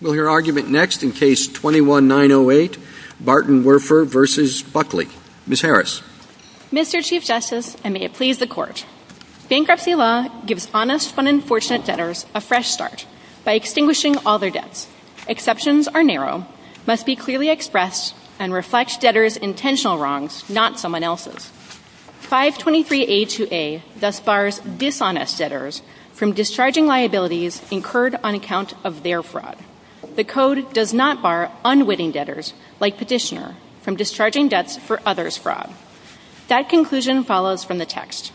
We'll hear argument next in Case 21-908, Bartenwerfer v. Buckley. Ms. Harris. Mr. Chief Justice, and may it please the Court, Bankruptcy law gives honest but unfortunate debtors a fresh start by extinguishing all their debts. Exceptions are narrow, must be clearly expressed, and reflect debtors' intentional wrongs, not someone else's. 523A2A thus bars dishonest debtors from discharging liabilities incurred on account of their fraud. The Code does not bar unwitting debtors, like Petitioner, from discharging debts for others' fraud. That conclusion follows from the text.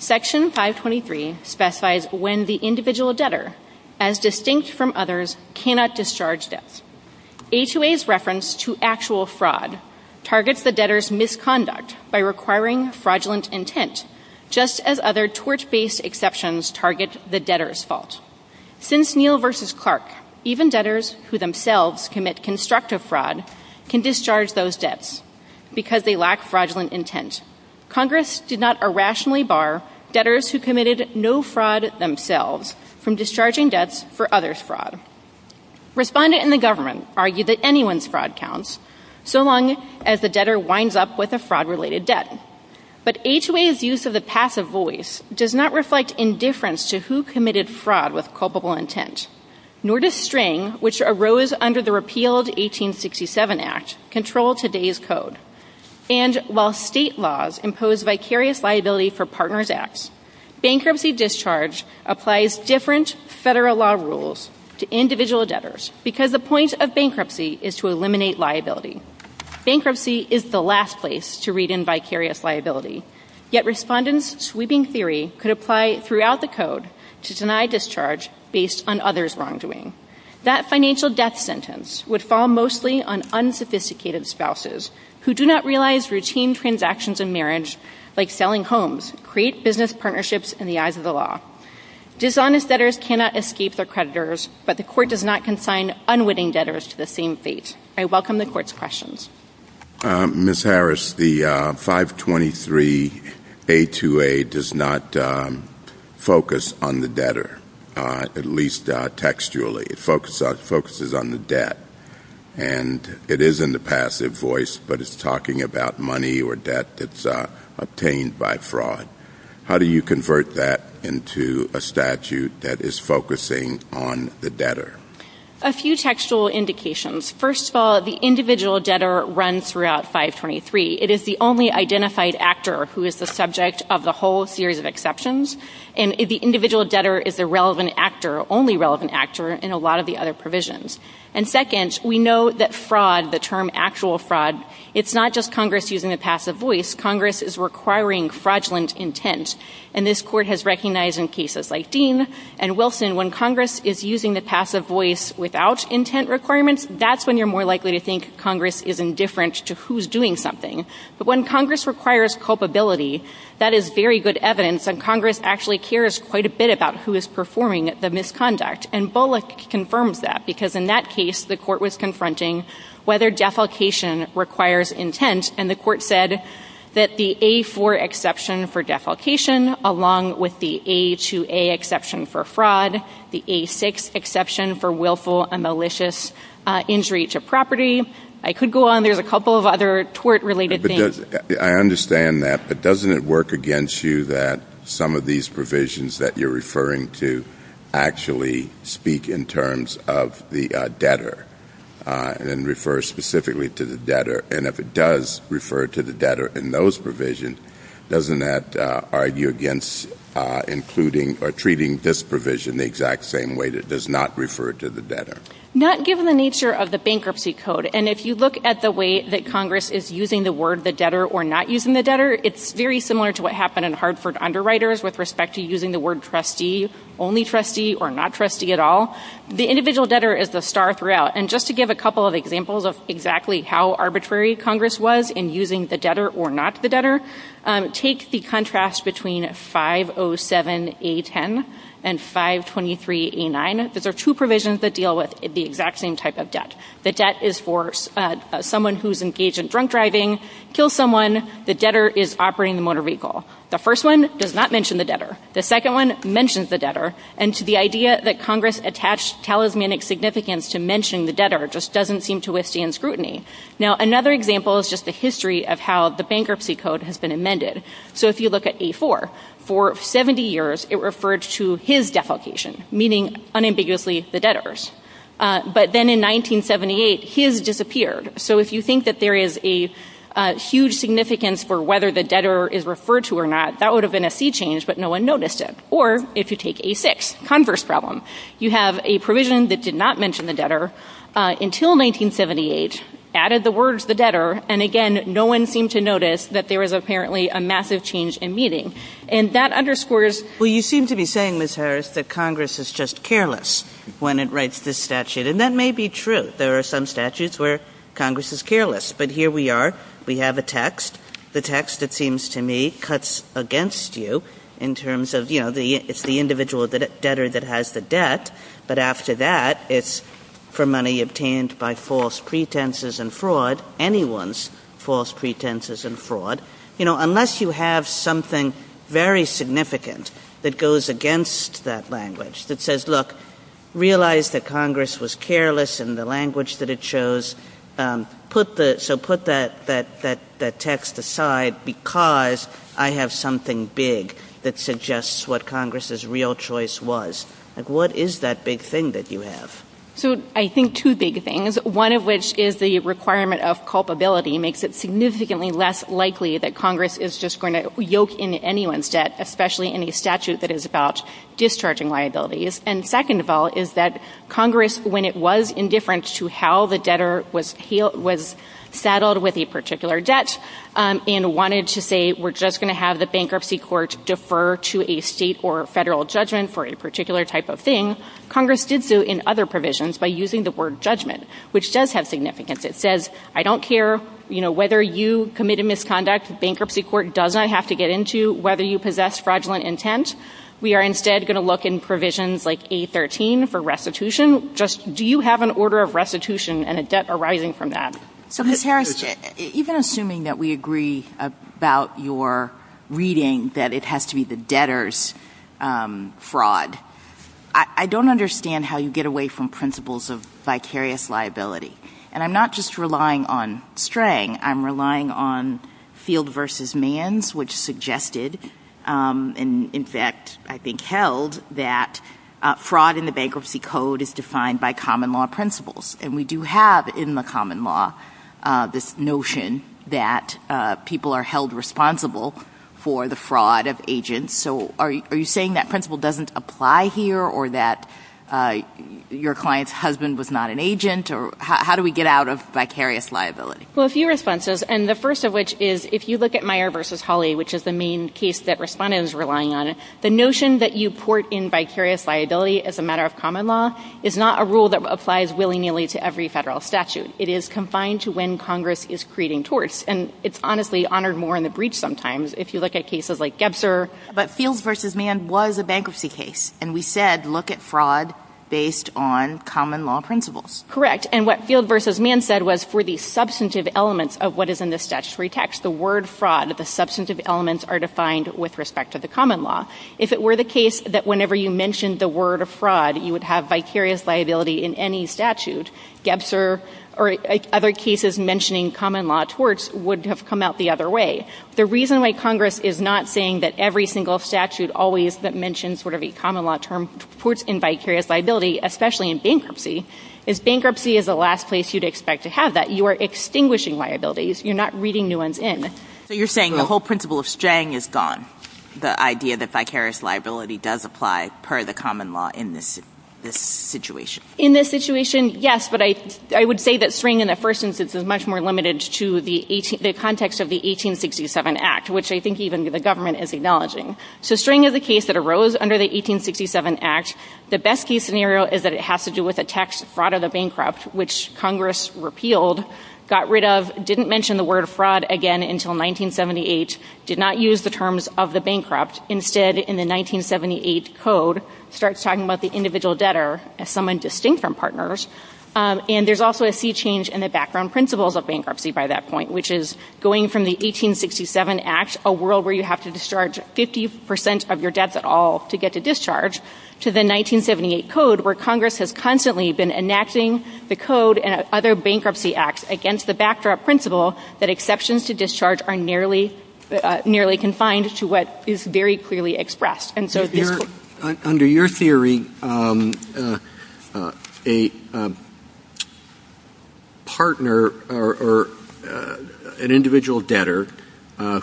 Section 523 specifies when the individual debtor, as distinct from others, cannot discharge debts. 523A2A's reference to actual fraud targets the debtor's misconduct by requiring fraudulent intent, just as other torch-based exceptions target the debtor's fault. Since Neal v. Clark, even debtors who themselves commit constructive fraud can discharge those debts because they lack fraudulent intent, Congress did not irrationally bar debtors who committed no fraud themselves from discharging debts for others' fraud. Respondents in the government argue that anyone's fraud counts, so long as the debtor winds up with a fraud-related debt. But A2A's use of the passive voice does not reflect indifference to who committed fraud with culpable intent, nor does string, which arose under the repealed 1867 Act, control today's Code. And while state laws impose vicarious liability for partners' acts, bankruptcy discharge applies different federal law rules to individual debtors because the point of bankruptcy is to eliminate liability. Bankruptcy is the last place to read in vicarious liability, yet Respondents' sweeping theory could apply throughout the Code to deny discharge based on others' wrongdoing. That financial death sentence would fall mostly on unsophisticated spouses who do not realize routine transactions in marriage, like selling homes, create business partnerships in the eyes of the law. Dishonest debtors cannot escape their creditors, but the Court does not consign unwitting debtors to the same fate. I welcome the Court's questions. Ms. Harris, the 523 A2A does not focus on the debtor, at least textually. It focuses on the debt. And it is in the passive voice, but it's talking about money or debt that's obtained by fraud. How do you convert that into a statute that is focusing on the debtor? A few textual indications. First of all, the individual debtor runs throughout 523. It is the only identified actor who is the subject of the whole series of exceptions. And the individual debtor is the relevant actor, only relevant actor, in a lot of the other provisions. And second, we know that fraud, the term actual fraud, it's not just Congress using the passive voice. Congress is requiring fraudulent intent. And this Court has recognized in cases like Dean and Wilson, when Congress is using the passive voice without intent requirements, that's when you're more likely to think Congress is indifferent to who's doing something. But when Congress requires culpability, that is very good evidence that Congress actually cares quite a bit about who is performing the misconduct. And Bullock confirmed that, because in that case, the Court was confronting whether defalcation requires intent. And the Court said that the A4 exception for defalcation, along with the A2A exception for fraud, the A6 exception for willful and malicious injury to property. I could go on. There's a couple of other tort-related things. I understand that, but doesn't it work against you that some of these provisions that you're referring to actually speak in terms of the debtor and refer specifically to the debtor? And if it does refer to the debtor in those provisions, doesn't that argue against including or treating this provision the exact same way that it does not refer to the debtor? Not given the nature of the bankruptcy code. And if you look at the way that Congress is using the word the debtor or not using the debtor, it's very similar to what happened in Hartford Underwriters with respect to using the word trustee, only trustee, or not trustee at all. The individual debtor is the star throughout. And just to give a couple of examples of exactly how arbitrary Congress was in using the debtor or not the debtor, take the contrast between 507A10 and 523A9. Those are two provisions that deal with the exact same type of debt. The debt is for someone who's engaged in drunk driving, kills someone. The debtor is operating the motor vehicle. The first one does not mention the debtor. The second one mentions the debtor. And to the idea that Congress attached talismanic significance to mention the debtor just doesn't seem to withstand scrutiny. Now, another example is just the history of how the bankruptcy code has been amended. So if you look at A4, for 70 years it referred to his defalcation, meaning unambiguously the debtor's. But then in 1978, his disappeared. So if you think that there is a huge significance for whether the debtor is referred to or not, that would have been a sea change, but no one noticed it. Or if you take A6, converse problem, you have a provision that did not mention the debtor until 1978, added the words the debtor, and again, no one seemed to notice that there was apparently a massive change in meaning. And that underscores what you seem to be saying, Ms. Harris, that Congress is just careless when it writes this statute. And that may be true. There are some statutes where Congress is careless. But here we are. We have a text. The text, it seems to me, cuts against you in terms of, you know, it's the individual debtor that has the debt. But after that, it's for money obtained by false pretenses and fraud, anyone's false pretenses and fraud. And, you know, unless you have something very significant that goes against that language that says, look, realize that Congress was careless in the language that it chose. So put that text aside because I have something big that suggests what Congress's real choice was. What is that big thing that you have? So I think two big things. One of which is the requirement of culpability makes it significantly less likely that Congress is just going to yoke in anyone's debt, especially in a statute that is about discharging liabilities. And second of all is that Congress, when it was indifferent to how the debtor was saddled with a particular debt and wanted to say we're just going to have the bankruptcy court defer to a state or federal judgment for a particular type of thing, Congress did so in other provisions by using the word judgment, which does have significance. It says I don't care, you know, whether you committed misconduct, the bankruptcy court does not have to get into whether you possess fraudulent intent. We are instead going to look in provisions like A13 for restitution. Just do you have an order of restitution and a debt arising from that? Even assuming that we agree about your reading that it has to be the debtor's fraud, I don't understand how you get away from principles of vicarious liability. And I'm not just relying on Strang, I'm relying on Field v. Manns, which suggested and in fact I think held that fraud in the bankruptcy code is defined by common law principles. And we do have in the common law this notion that people are held responsible for the fraud of agents. So are you saying that principle doesn't apply here or that your client's husband was not an agent? How do we get out of vicarious liability? Well, a few responses, and the first of which is if you look at Meyer v. Hawley, which is the main case that Respondent is relying on, the notion that you port in vicarious liability as a matter of common law is not a rule that applies willy-nilly to every federal statute. It is confined to when Congress is creating torts, and it's honestly honored more in the breach sometimes if you look at cases like Gebzer. But Field v. Mann was a bankruptcy case, and we said look at fraud based on common law principles. Correct, and what Field v. Mann said was for the substantive elements of what is in the statutory text, the word fraud, the substantive elements are defined with respect to the common law. If it were the case that whenever you mentioned the word fraud, you would have vicarious liability in any statute, Gebzer or other cases mentioning common law torts would have come out the other way. The reason why Congress is not saying that every single statute always mentions sort of a common law term in vicarious liability, especially in bankruptcy, is bankruptcy is the last place you'd expect to have that. You are extinguishing liabilities. You're not reading new ones in. So you're saying the whole principle of String is gone, the idea that vicarious liability does apply per the common law in this situation. In this situation, yes, but I would say that String in the first instance is much more limited to the context of the 1867 Act, which I think even the government is acknowledging. So String is a case that arose under the 1867 Act. The best case scenario is that it has to do with a tax fraud of the bankrupt, which Congress repealed, got rid of, didn't mention the word fraud again until 1978, did not use the terms of the bankrupt. Instead, in the 1978 Code, starts talking about the individual debtor as someone distinct from partners. And there's also a sea change in the background principles of bankruptcy by that point, which is going from the 1867 Act, a world where you have to discharge 50% of your debts at all to get to discharge, to the 1978 Code, where Congress has constantly been enacting the Code and other bankruptcy acts against the backdrop principle that exceptions to discharge are nearly confined to what is very clearly expressed. Under your theory, an individual debtor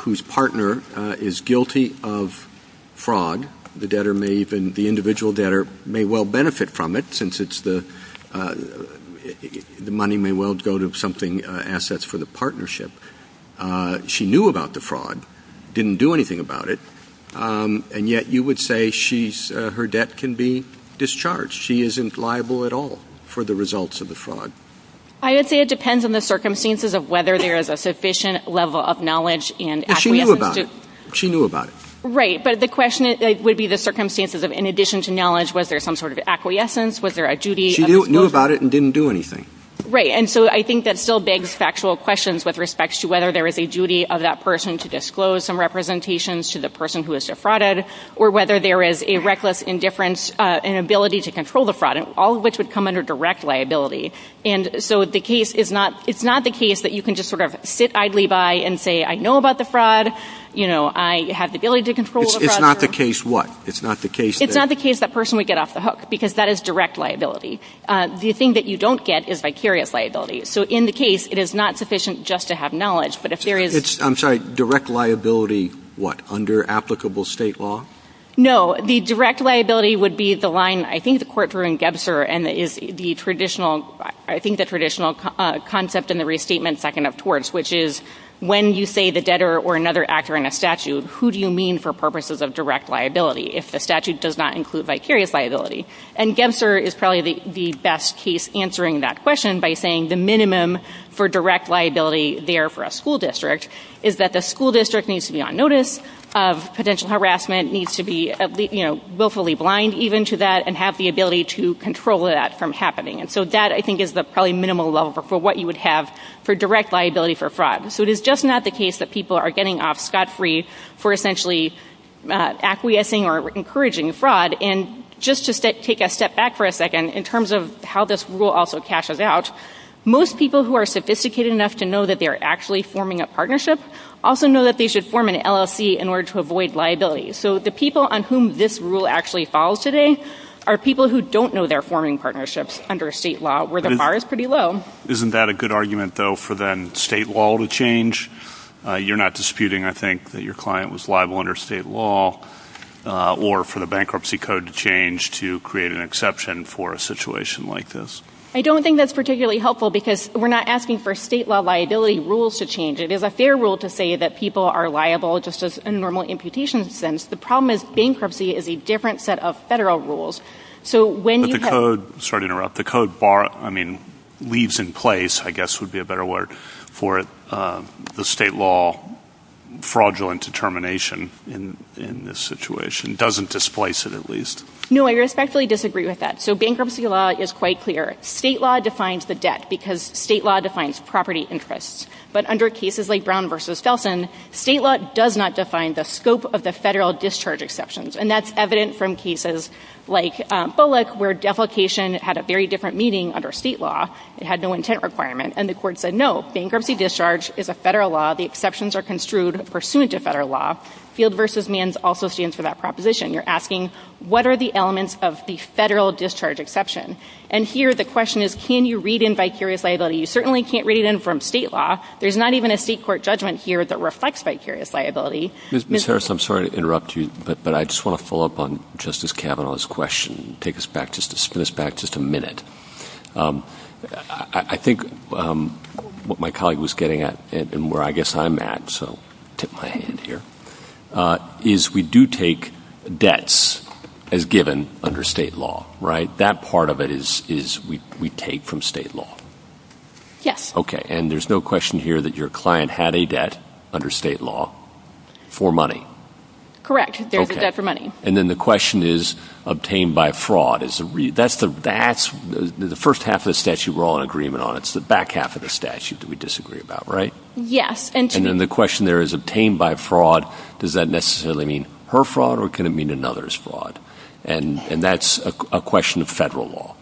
whose partner is guilty of fraud, the individual debtor may well benefit from it, since the money may well go to something, assets for the partnership. She knew about the fraud, didn't do anything about it, and yet you would say her debt can be discharged. She isn't liable at all for the results of the fraud. I would say it depends on the circumstances of whether there is a sufficient level of knowledge. She knew about it. Right, but the question would be the circumstances of in addition to knowledge, was there some sort of acquiescence, was there a duty? She knew about it and didn't do anything. Right, and so I think that still begs factual questions with respect to whether there is a duty of that person to disclose some representations to the person who is defrauded or whether there is a reckless indifference and ability to control the fraud, all of which would come under direct liability. So it's not the case that you can just sort of sit idly by and say, I know about the fraud, I have the ability to control the fraud. It's not the case what? It's not the case that person would get off the hook because that is direct liability. The thing that you don't get is vicarious liability. So in the case, it is not sufficient just to have knowledge. I'm sorry, direct liability what, under applicable state law? No, the direct liability would be the line, I think the court proved in Gebser, and I think the traditional concept in the restatement second of torts, which is when you say the debtor or another actor in a statute, who do you mean for purposes of direct liability if the statute does not include vicarious liability? And Gebser is probably the best case answering that question by saying the minimum for direct liability there for a school district is that the school district needs to be on notice of potential harassment, needs to be willfully blind even to that, and have the ability to control that from happening. So that I think is the probably minimal level for what you would have for direct liability for fraud. So it is just not the case that people are getting off scot-free for essentially acquiescing or encouraging fraud. And just to take a step back for a second, in terms of how this rule also cashes out, most people who are sophisticated enough to know that they are actually forming a partnership also know that they should form an LLC in order to avoid liability. So the people on whom this rule actually falls today are people who don't know they're forming partnerships under state law, where the bar is pretty low. Isn't that a good argument, though, for then state law to change? You're not disputing, I think, that your client was liable under state law, or for the bankruptcy code to change to create an exception for a situation like this. I don't think that's particularly helpful because we're not asking for state law liability rules to change. It is a fair rule to say that people are liable just as a normal imputation is. The problem is bankruptcy is a different set of federal rules. Sorry to interrupt. The code leaves in place, I guess would be a better word for it, the state law fraudulent determination in this situation. It doesn't displace it, at least. No, I respectfully disagree with that. So bankruptcy law is quite clear. State law defines the debt because state law defines property interests. But under cases like Brown v. Felson, state law does not define the scope of the federal discharge exceptions. And that's evident from cases like Bullock, where defecation had a very different meaning under state law. It had no intent requirement. And the court said, no, bankruptcy discharge is a federal law. The exceptions are construed pursuant to federal law. Field v. Manns also stands for that proposition. You're asking, what are the elements of the federal discharge exception? And here the question is, can you read in vicarious liability? You certainly can't read it in from state law. There's not even a state court judgment here that reflects vicarious liability. Ms. Harris, I'm sorry to interrupt you, but I just want to follow up on Justice Kavanaugh's question and take us back just a minute. I think what my colleague was getting at, and where I guess I'm at, so tip my hand here, is we do take debts as given under state law, right? That part of it is we take from state law. Yes. Okay, and there's no question here that your client had a debt under state law for money. Correct. There's a debt for money. And then the question is obtained by fraud. That's the first half of the statute we're all in agreement on. It's the back half of the statute that we disagree about, right? Yes. And then the question there is obtained by fraud. Does that necessarily mean her fraud or can it mean another's fraud? And that's a question of federal law.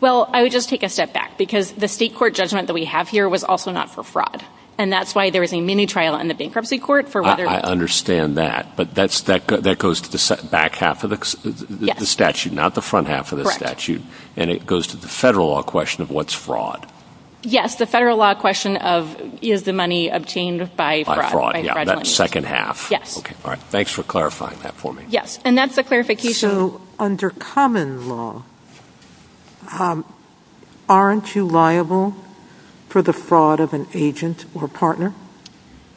Well, I would just take a step back because the state court judgment that we have here was also not for fraud, and that's why there was a mini trial in the bankruptcy court for whether or not. I understand that, but that goes to the back half of the statute, not the front half of the statute. Correct. And it goes to the federal law question of what's fraud. Yes, the federal law question of is the money obtained by fraud. By fraud, yeah, that second half. Yes. Okay, all right. Thanks for clarifying that for me. Yes, and that's the clarification. So under common law, aren't you liable for the fraud of an agent or partner?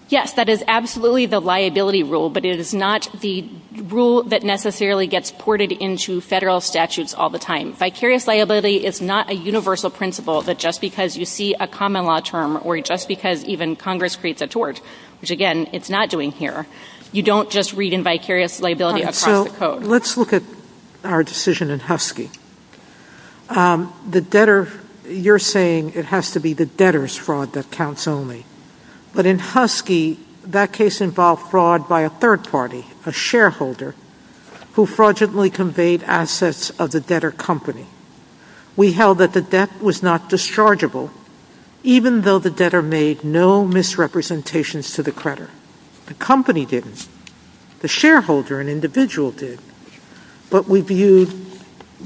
Yes, that is absolutely the liability rule, but it is not the rule that necessarily gets ported into federal statutes all the time. Vicarious liability is not a universal principle that just because you see a common law term or just because even Congress creates a tort, which again, it's not doing here, you don't just read in vicarious liability across the code. So let's look at our decision in Husky. The debtor, you're saying it has to be the debtor's fraud that counts only. But in Husky, that case involved fraud by a third party, a shareholder, who fraudulently conveyed assets of the debtor company. We held that the debt was not dischargeable, even though the debtor made no misrepresentations to the creditor. The company didn't. The shareholder, an individual, did. But we viewed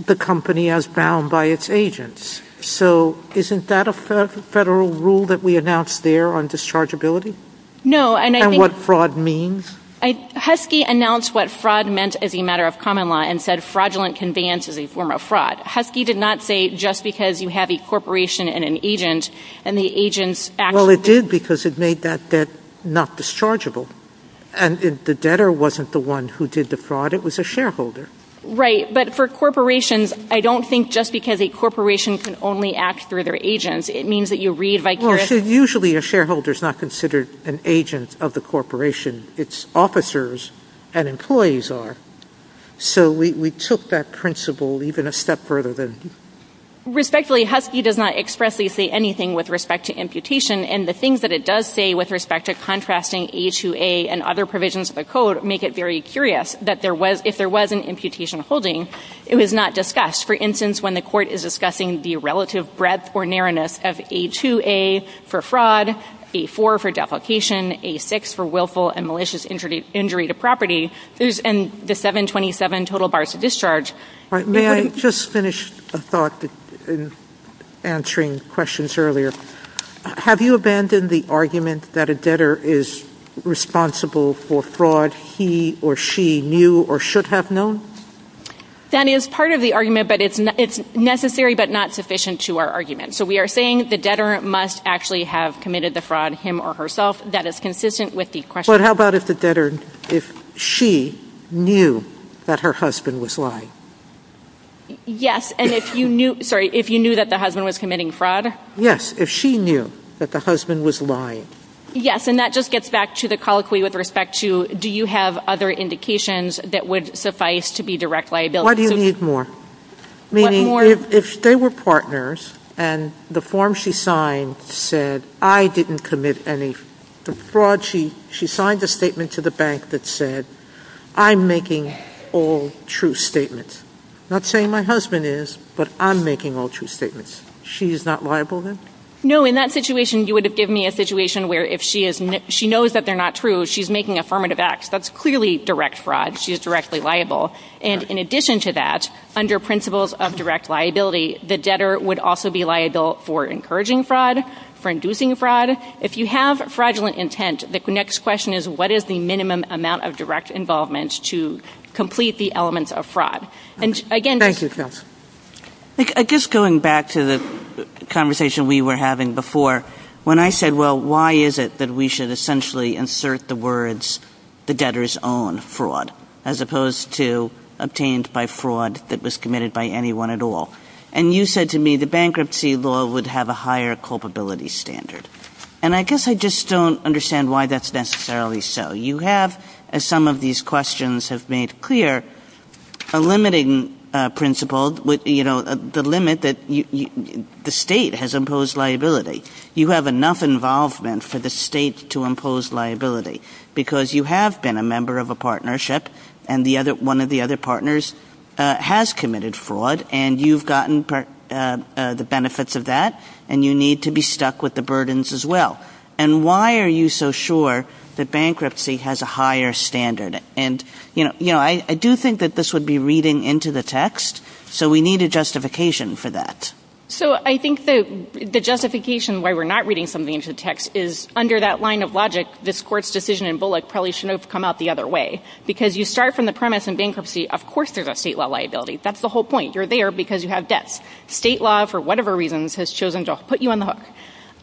the company as bound by its agents. So isn't that a federal rule that we announced there on dischargeability? No, and I think... And what fraud means? Husky announced what fraud meant as a matter of common law and said fraudulent conveyance is a form of fraud. Husky did not say just because you have a corporation and an agent and the agent... Well, it did because it made that debt not dischargeable. And the debtor wasn't the one who did the fraud. It was a shareholder. Right, but for corporations, I don't think just because a corporation can only act through their agents, it means that you read by... Well, usually a shareholder is not considered an agent of the corporation. It's officers and employees are. So we took that principle even a step further than... Respectfully, Husky does not expressly say anything with respect to amputation, and the things that it does say with respect to contrasting A2A and other provisions of the code make it very curious that if there was an amputation holding, it was not discussed. For instance, when the court is discussing the relative breadth or narrowness of A2A for fraud, A4 for deprecation, A6 for willful and malicious injury to property, and the 727 total bars of discharge... May I just finish a thought in answering questions earlier? Have you abandoned the argument that a debtor is responsible for fraud he or she knew or should have known? That is part of the argument, but it's necessary but not sufficient to our argument. So we are saying the debtor must actually have committed the fraud him or herself. That is consistent with the question... But how about if the debtor, if she knew that her husband was lying? Yes, and if you knew... Sorry, if you knew that the husband was committing fraud? Yes, if she knew that the husband was lying. Yes, and that just gets back to the colloquy with respect to, do you have other indications that would suffice to be direct liability? Why do you need more? Meaning if they were partners and the form she signed said, I didn't commit any fraud, she signed a statement to the bank that said, I'm making all true statements. Not saying my husband is, but I'm making all true statements. She is not liable then? No, in that situation, you would have given me a situation where if she knows that they're not true, she's making affirmative acts. That's clearly direct fraud. She is directly liable. And in addition to that, under principles of direct liability, the debtor would also be liable for encouraging fraud, for inducing fraud. If you have fraudulent intent, the next question is, what is the minimum amount of direct involvement to complete the element of fraud? Thank you, Chris. I guess going back to the conversation we were having before, when I said, well, why is it that we should essentially insert the words, the debtor's own fraud, as opposed to obtained by fraud that was committed by anyone at all? And you said to me, the bankruptcy law would have a higher culpability standard. And I guess I just don't understand why that's necessarily so. You have, as some of these questions have made clear, a limiting principle, the limit that the state has imposed liability. You have enough involvement for the state to impose liability because you have been a member of a partnership and one of the other partners has committed fraud and you've gotten the benefits of that and you need to be stuck with the burdens as well. And why are you so sure that bankruptcy has a higher standard? And I do think that this would be reading into the text, so we need a justification for that. So I think the justification why we're not reading something into the text is, under that line of logic, this court's decision in Bullock probably should have come out the other way. Because you start from the premise in bankruptcy, of course there's a state law liability. That's the whole point. You're there because you have debts. State law, for whatever reasons, has chosen to put you on the hook.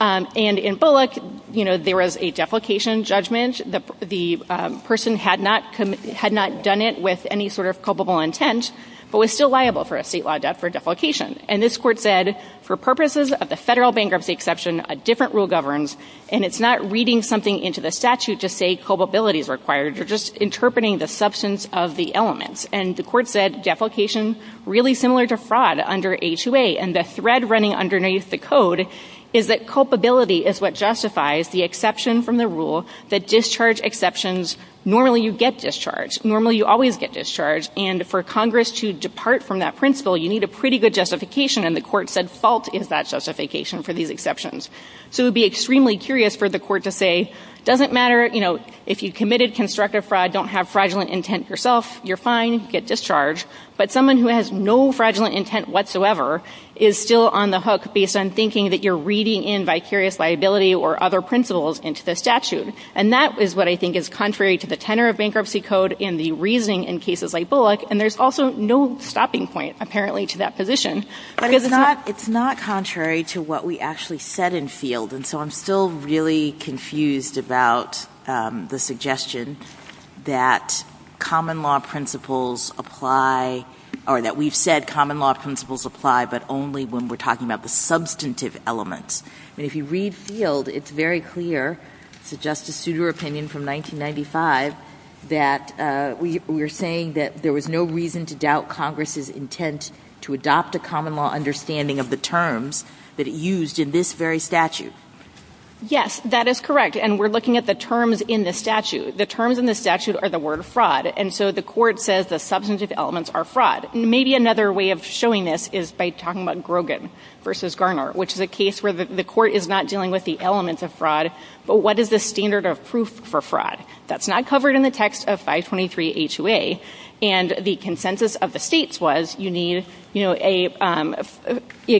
And in Bullock, there was a deflication judgment. The person had not done it with any sort of culpable intent, but was still liable for a state law debt for deflication. And this court said, for purposes of a federal bankruptcy exception, a different rule governs and it's not reading something into the statute to say culpability is required. You're just interpreting the substance of the element. And the court said deflication is really similar to fraud under H-2A. And the thread running underneath the code is that culpability is what justifies the exception from the rule that discharge exceptions, normally you get discharged. Normally you always get discharged. And for Congress to depart from that principle, you need a pretty good justification. And the court said fault is that justification for these exceptions. So it would be extremely curious for the court to say, doesn't matter if you committed constructive fraud, don't have fraudulent intent yourself, you're fine, you get discharged. But someone who has no fraudulent intent whatsoever is still on the hook based on thinking that you're reading in by serious liability or other principles into the statute. And that is what I think is contrary to the tenor of bankruptcy code in the reasoning in cases like Bullock. And there's also no stopping point, apparently, to that position. But it's not contrary to what we actually said in field. And so I'm still really confused about the suggestion that common law principles apply, or that we've said common law principles apply, but only when we're talking about the substantive element. And if you read field, it's very clear to Justice Souter opinion from 1995 that we were saying that there was no reason to doubt Congress's intent to adopt a common law understanding of the terms that it used in this very statute. Yes, that is correct. And we're looking at the terms in the statute. The terms in the statute are the word fraud. And so the court says the substantive elements are fraud. Maybe another way of showing this is by talking about Grogan v. Garner, which is a case where the court is not dealing with the elements of fraud, but what is the standard of proof for fraud? That's not covered in the text of 523A2A. And the consensus of the states was you need a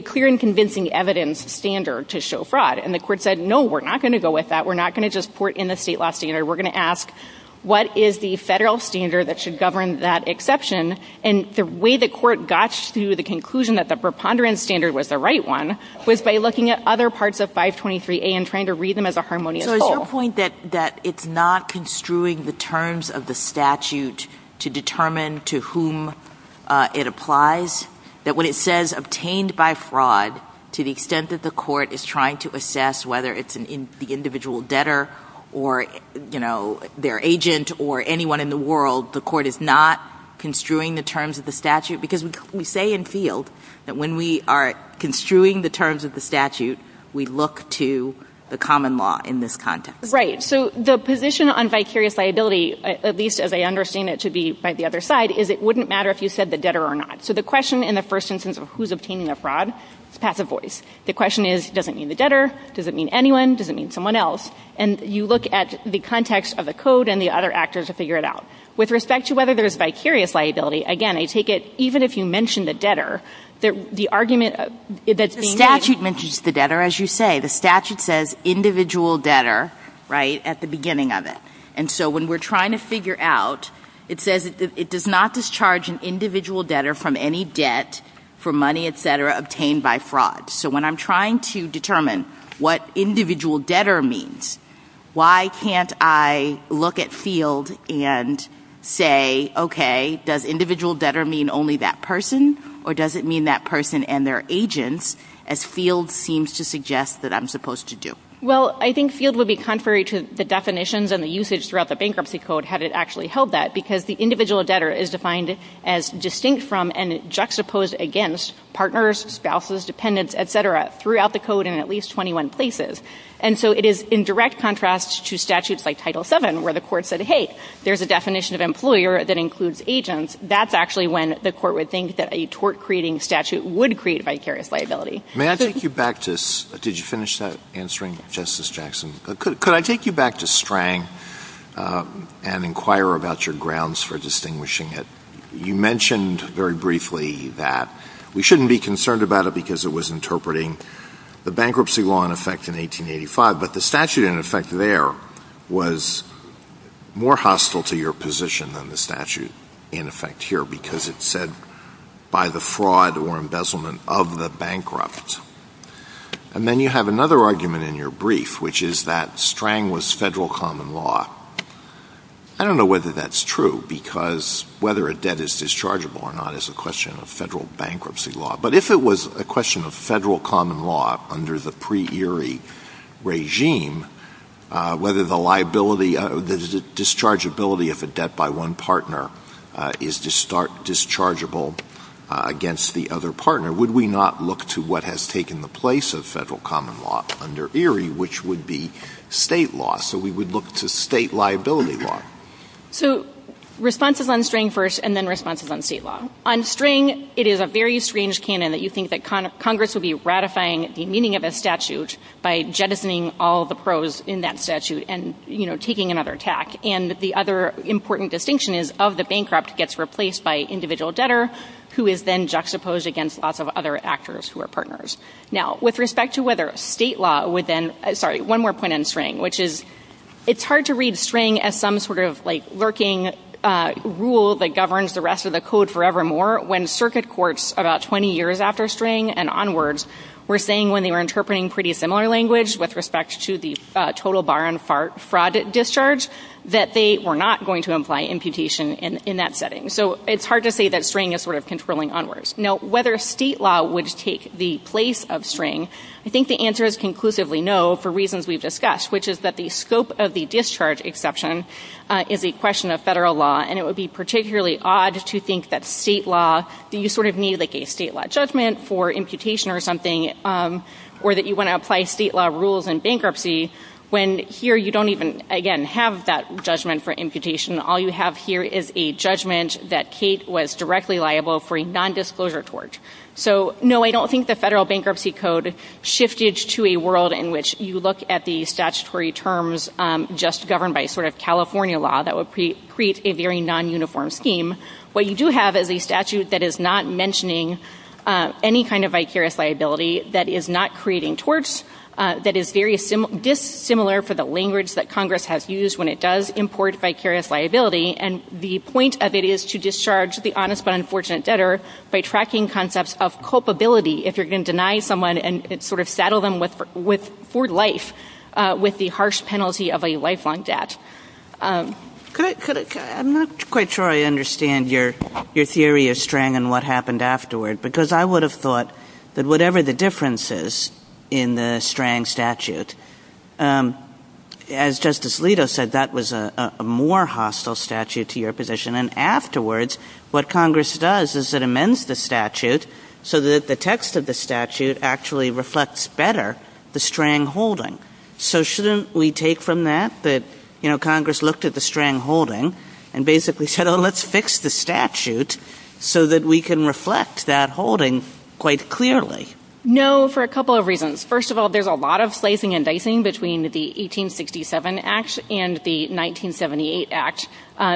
clear and convincing evidence standard to show fraud. And the court said, no, we're not going to go with that. We're not going to just put in a state law standard. We're going to ask, what is the federal standard that should govern that exception? And the way the court got to the conclusion that the preponderance standard was the right one was by looking at other parts of 523A and trying to read them as a harmonious whole. So is there a point that it's not construing the terms of the statute to determine to whom it applies? That when it says obtained by fraud, to the extent that the court is trying to assess whether it's the individual debtor or their agent or anyone in the world, the court is not construing the terms of the statute? Because we say in field that when we are construing the terms of the statute, we look to the common law in this context. Right. So the position on vicarious liability, at least as I understand it should be by the other side, is it wouldn't matter if you said the debtor or not. So the question in the first instance of who's obtaining the fraud is passive voice. The question is, does it mean the debtor? Does it mean anyone? Does it mean someone else? And you look at the context of the code and the other actors to figure it out. With respect to whether there's vicarious liability, again, I take it even if you mention the debtor, the argument that's being made... The statute mentions the debtor, as you say. The statute says individual debtor, right, at the beginning of it. And so when we're trying to figure out, it says it does not discharge an individual debtor from any debt for money, et cetera, obtained by fraud. So when I'm trying to determine what individual debtor means, why can't I look at FIELD and say, okay, does individual debtor mean only that person or does it mean that person and their agent, as FIELD seems to suggest that I'm supposed to do? Well, I think FIELD would be contrary to the definitions and the usage throughout the bankruptcy code had it actually held that, because the individual debtor is defined as distinct from and juxtaposed against partners, spouses, dependents, et cetera, throughout the code in at least 21 places. And so it is in direct contrast to statutes like Title VII where the court said, hey, there's a definition of employer that includes agents. That's actually when the court would think that a tort-creating statute would create vicarious liability. May I take you back to... Did you finish that answering, Justice Jackson? Could I take you back to STRANG and inquire about your grounds for distinguishing it? You mentioned very briefly that we shouldn't be concerned about it because it was interpreting the bankruptcy law in effect in 1885, but the statute in effect there was more hostile to your position than the statute in effect here because it said by the fraud or embezzlement of the bankrupt. And then you have another argument in your brief, which is that STRANG was federal common law. I don't know whether that's true because whether a debt is dischargeable or not is a question of federal bankruptcy law. But if it was a question of federal common law under the pre-Erie regime, whether the dischargeability of a debt by one partner is dischargeable against the other partner, would we not look to what has taken the place of federal common law under Erie, which would be state law? So we would look to state liability law. So responses on STRANG first and then responses on state law. On STRANG, it is a very strange canon that you think that Congress will be ratifying the meaning of a statute by jettisoning all the pros in that statute and taking another tack. And the other important distinction is of the bankrupt gets replaced by individual debtor who is then juxtaposed against lots of other actors who are partners. Now, with respect to whether state law would then, sorry, one more point on STRANG, which is it's hard to read STRANG as some sort of lurking rule that governs the rest of the code forevermore when circuit courts about 20 years after STRANG and onwards were saying when they were interpreting pretty similar language with respect to the total bar on fraud discharge that they were not going to imply imputation in that setting. So it's hard to say that STRANG is sort of controlling onwards. Now, whether state law would take the place of STRANG, I think the answer is conclusively no for reasons we've discussed, which is that the scope of the discharge exception is a question of federal law. And it would be particularly odd to think that state law, you sort of need like a state law judgment for imputation or something or that you want to apply state law rules in bankruptcy when here you don't even, again, have that judgment for imputation. All you have here is a judgment that Kate was directly liable for a nondisclosure tort. So, no, I don't think the Federal Bankruptcy Code shifted to a world in which you look at the statutory terms just governed by sort of California law that would create a very non-uniform scheme. What you do have is a statute that is not mentioning any kind of vicarious liability that is not creating torts, that is very dissimilar for the language that Congress has used when it does import vicarious liability. And the point of it is to discharge the honest but unfortunate debtor by tracking concepts of culpability if you're going to deny someone and sort of saddle them for life with the harsh penalty of a lifelong debt. I'm not quite sure I understand your theory of STRANG and what happened afterward because I would have thought that whatever the differences in the STRANG statute, as Justice Alito said, that was a more hostile statute to your position. And afterwards, what Congress does is it amends the statute so that the text of the statute actually reflects better the STRANG holding. So shouldn't we take from that that, you know, Congress looked at the STRANG holding and basically said, oh, let's fix the statute so that we can reflect that holding quite clearly? No, for a couple of reasons. First of all, there's a lot of slicing and dicing between the 1867 Act and the 1978 Act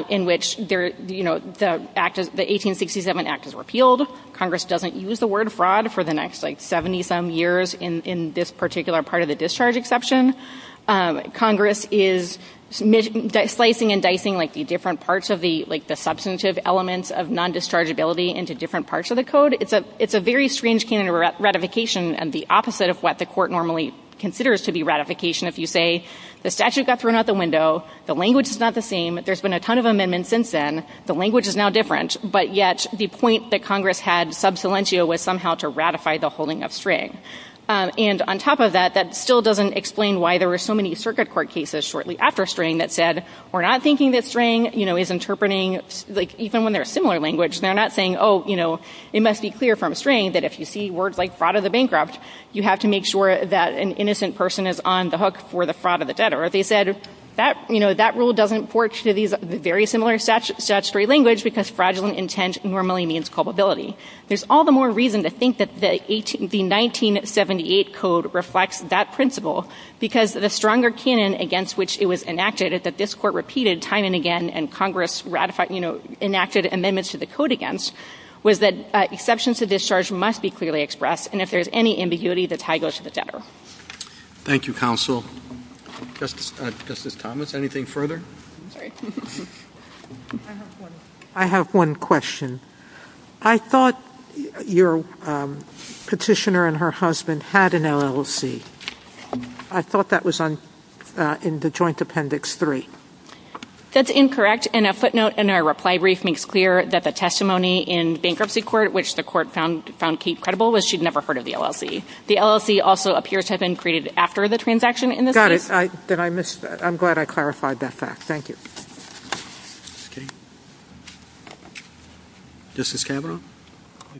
in which the 1867 Act is repealed. Congress doesn't use the word fraud for the next, like, 70-some years in this particular part of the discharge exception. Congress is slicing and dicing, like, the different parts of the substantive elements of non-dischargeability into different parts of the code. It's a very strange canon of ratification and the opposite of what the court normally considers to be ratification if you say the statute got thrown out the window, the language is not the same, there's been a ton of amendments since then, the language is now different, but yet the point that Congress had sub silentio was somehow to ratify the holding of STRANG. And on top of that, that still doesn't explain why there were so many circuit court cases shortly after STRANG that said, we're not thinking that STRANG, you know, is interpreting, like, even when they're a similar language, they're not saying, oh, you know, it must be clear from STRANG that if you see words like fraud or the bankrupt, you have to make sure that an innocent person is on the hook for the fraud of the debtor. They said, you know, that rule doesn't work to these very similar statutory language because fraudulent intent normally means culpability. There's all the more reason to think that the 1978 code reflects that principle because the stronger canon against which it was enacted, that this court repeated time and again and Congress ratified, you know, enacted amendments to the code against, was that exceptions to discharge must be clearly expressed, and if there's any ambiguity, the tie goes to the debtor. Thank you, counsel. Justice Thomas, anything further? I have one question. I thought your petitioner and her husband had an LLC. I thought that was in the joint appendix three. That's incorrect, and a footnote in our reply brief makes clear that the testimony in bankruptcy court, which the court found key credible, was she'd never heard of the LLC. The LLC also appears to have been created after the transaction in this case. Got it. I'm glad I clarified that fact. Thank you. Justice Cameron?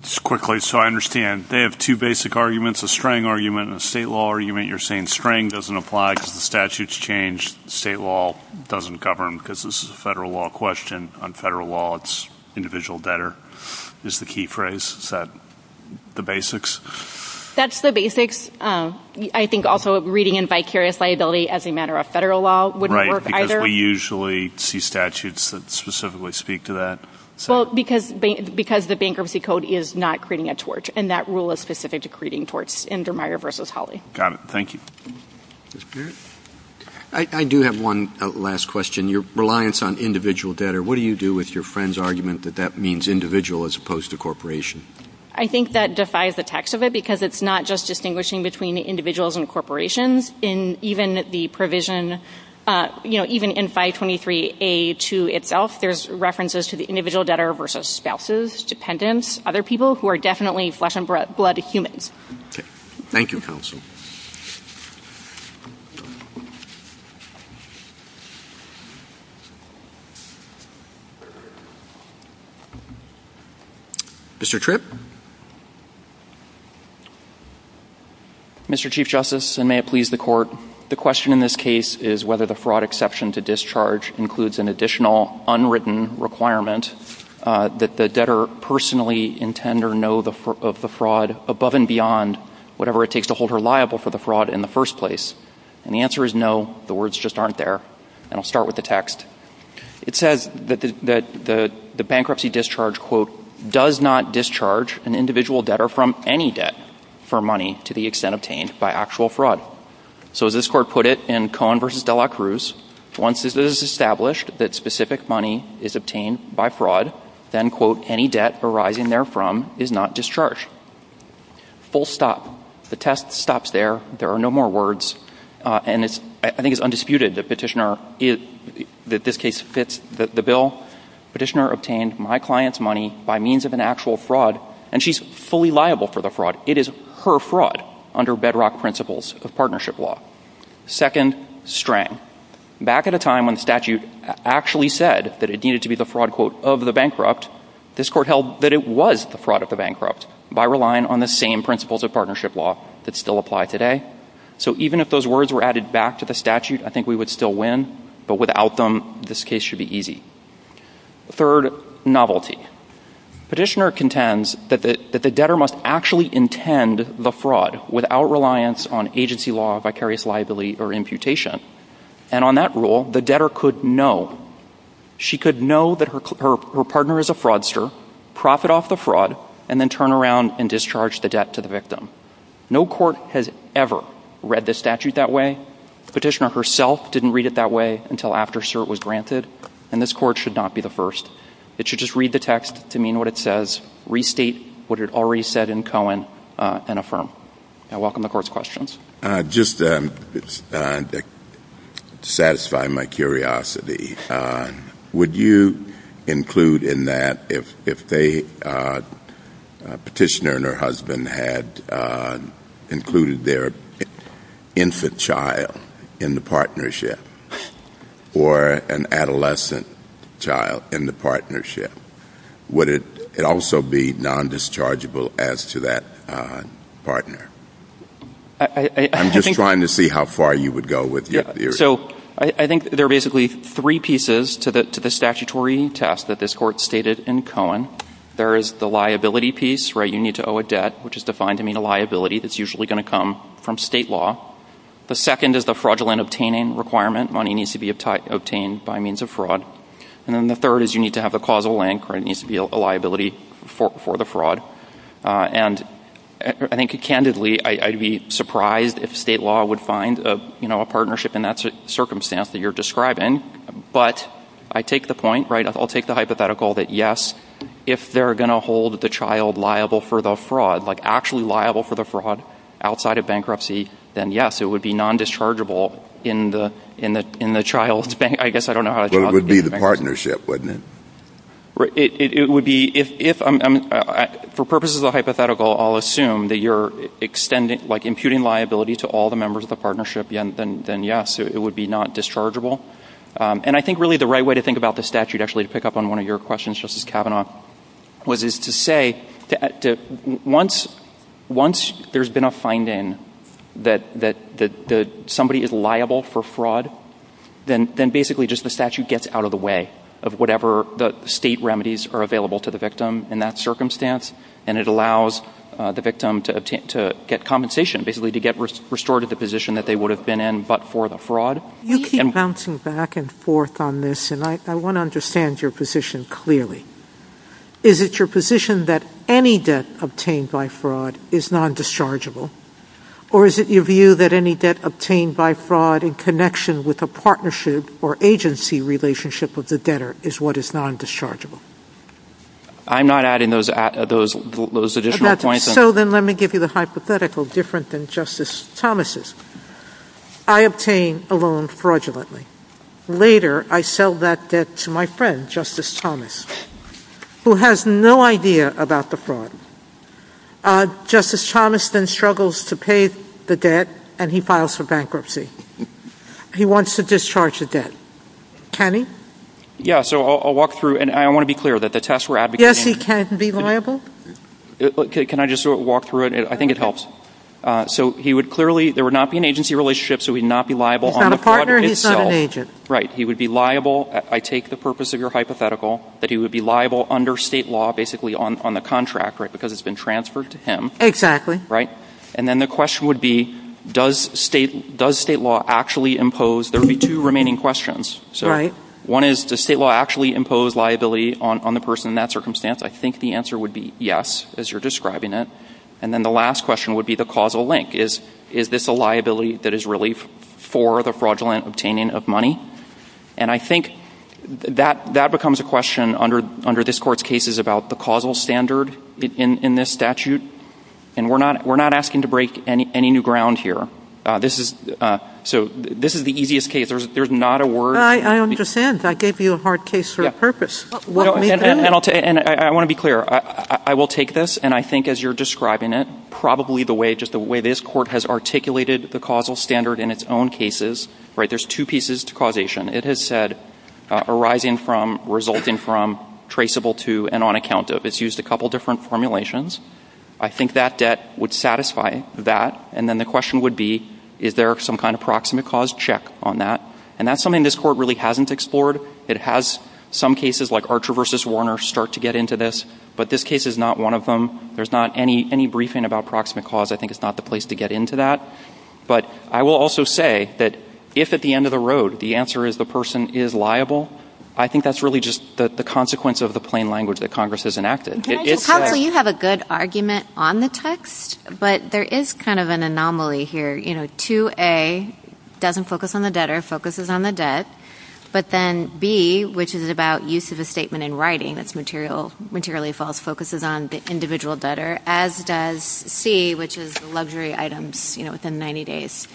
Just quickly, so I understand. They have two basic arguments, a STRANG argument and a state law argument. You're saying STRANG doesn't apply because the statute's changed. State law doesn't govern because this is a federal law question. On federal law, it's individual debtor is the key phrase. Is that the basics? That's the basics. I think also reading in vicarious liability as a matter of federal law wouldn't work either. Right, because we usually see statutes that specifically speak to that. Well, because the bankruptcy code is not creating a torch, and that rule is specific to creating torches, Indermayer v. Holley. Got it. Thank you. Justice Cameron? I do have one last question. Your reliance on individual debtor, what do you do with your friend's argument that that means individual as opposed to corporation? I think that defies the text of it because it's not just distinguishing between individuals and corporations. Even in 523A2 itself, there's references to the individual debtor versus spouses, dependents, other people who are definitely flesh and blood humans. Thank you, counsel. Mr. Tripp? Mr. Chief Justice, and may it please the court, the question in this case is whether the fraud exception to discharge includes an additional unwritten requirement that the debtor personally intend or know of the fraud above and beyond whatever it takes to hold her liable for the fraud in the first place. And the answer is no. The words just aren't there. And I'll start with the text. It says that the bankruptcy discharge, quote, does not discharge an individual debtor from any debt for money to the extent obtained by actual fraud. So as this court put it in Cohen v. De La Cruz, once it is established that specific money is obtained by fraud, then, quote, any debt arising therefrom is not discharged. Full stop. The text stops there. There are no more words. And I think it's undisputed that this case fits the bill. Petitioner obtained my client's money by means of an actual fraud, and she's fully liable for the fraud. It is her fraud under bedrock principles of partnership law. Second, strain. Back at a time when statute actually said that it needed to be the fraud, quote, of the bankrupt, this court held that it was the fraud of the bankrupt by relying on the same principles of partnership law that still apply today. So even if those words were added back to the statute, I think we would still win. But without them, this case should be easy. Third, novelty. Petitioner contends that the debtor must actually intend the fraud without reliance on agency law, vicarious liability, or imputation. And on that rule, the debtor could know. She could know that her partner is a fraudster, profit off the fraud, and then turn around and discharge the debt to the victim. No court has ever read the statute that way. Petitioner herself didn't read it that way until after cert was granted. And this court should not be the first. It should just read the text to mean what it says, restate what it already said in Cohen, and affirm. I welcome the court's questions. Just to satisfy my curiosity, would you include in that if a petitioner and her husband had included their infant child in the partnership or an adolescent child in the partnership, would it also be non-dischargeable as to that partner? I'm just trying to see how far you would go with your theory. So I think there are basically three pieces to the statutory test that this court stated in Cohen. There is the liability piece, right? You need to owe a debt, which is defined to mean a liability that's usually going to come from state law. The second is the fraudulent obtaining requirement. Money needs to be obtained by means of fraud. And then the third is you need to have a causal land claim. It needs to be a liability for the fraud. And I think, candidly, I'd be surprised if state law would find a partnership in that circumstance that you're describing. But I take the point, right? I'll take the hypothetical that, yes, if they're going to hold the child liable for the fraud, like actually liable for the fraud outside of bankruptcy, then yes, it would be non-dischargeable in the child's bank. But it would be the partnership, wouldn't it? It would be — for purposes of the hypothetical, I'll assume that you're imputing liability to all the members of the partnership, then yes, it would be non-dischargeable. And I think really the right way to think about this statute, actually, to pick up on one of your questions, Justice Kavanaugh, was to say that once there's been a finding that somebody is liable for fraud, then basically just the statute gets out of the way of whatever the state remedies are available to the victim in that circumstance, and it allows the victim to get compensation, basically to get restored to the position that they would have been in but for the fraud. You keep bouncing back and forth on this, and I want to understand your position clearly. Is it your position that any debt obtained by fraud is non-dischargeable, or is it your view that any debt obtained by fraud in connection with a partnership or agency relationship with the debtor is what is non-dischargeable? I'm not adding those additional points. So then let me give you the hypothetical, different than Justice Thomas'. I obtain a loan fraudulently. Later, I sell that debt to my friend, Justice Thomas, who has no idea about the fraud. Justice Thomas then struggles to pay the debt, and he files for bankruptcy. He wants to discharge the debt. Can he? Yeah, so I'll walk through, and I want to be clear that the test we're advocating... Yes, he can be liable? Can I just walk through it? I think it helps. There would not be an agency relationship, so he would not be liable on the project itself. He's not a partner, and he's not an agent. Right, he would be liable. I take the purpose of your hypothetical that he would be liable under state law, basically on the contract, because it's been transferred to him. Exactly. And then the question would be, does state law actually impose... There would be two remaining questions. One is, does state law actually impose liability on the person in that circumstance? I think the answer would be yes, as you're describing it. And then the last question would be the causal link. Is this a liability that is relief for the fraudulent obtaining of money? And I think that becomes a question under this Court's cases about the causal standard in this statute, and we're not asking to break any new ground here. So this is the easiest case. There's not a word... I understand. I gave you a hard case for a purpose. And I want to be clear. I will take this, and I think as you're describing it, probably just the way this Court has articulated the causal standard in its own cases, there's two pieces to causation. It has said arising from, resulting from, traceable to, and on account of. It's used a couple different formulations. I think that debt would satisfy that, and then the question would be, is there some kind of proximate cause check on that? And that's something this Court really hasn't explored. It has some cases, like Archer v. Warner, start to get into this, but this case is not one of them. There's not any briefing about proximate cause. I think it's not the place to get into that. But I will also say that if at the end of the road the answer is the person is liable, I think that's really just the consequence of the plain language that Congress has enacted. How come you have a good argument on the text, but there is kind of an anomaly here. You know, 2A doesn't focus on the debtor, focuses on the debt, but then B, which is about use of a statement in writing, that's materially false, focuses on the individual debtor, as does C, which is luxury items, you know, within 90 days.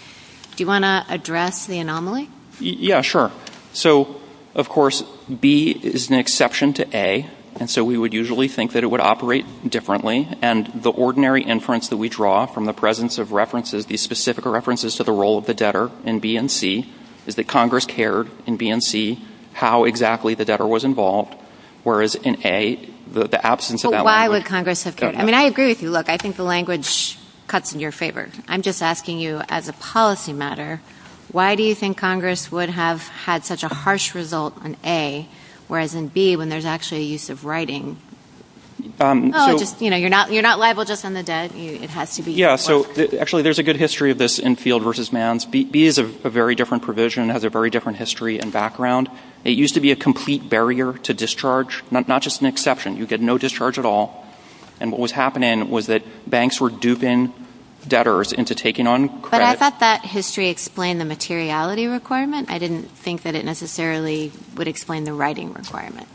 Do you want to address the anomaly? Yeah, sure. So, of course, B is an exception to A, and so we would usually think that it would operate differently, and the ordinary inference that we draw from the presence of references, these specific references to the role of the debtor in B and C, is that Congress cared in B and C how exactly the debtor was involved, whereas in A, the absence of that language. But why would Congress have cared? I mean, I agree with you. Look, I think the language cuts in your favor. I'm just asking you as a policy matter, why do you think Congress would have had such a harsh result in A, whereas in B, when there's actually use of writing. You know, you're not liable just on the debt. Yeah, so actually there's a good history of this in field versus man. B is a very different provision. It has a very different history and background. It used to be a complete barrier to discharge, not just an exception. You get no discharge at all, and what was happening was that banks were duping debtors into taking on credit. But I thought that history explained the materiality requirement. I didn't think that it necessarily would explain the writing requirement.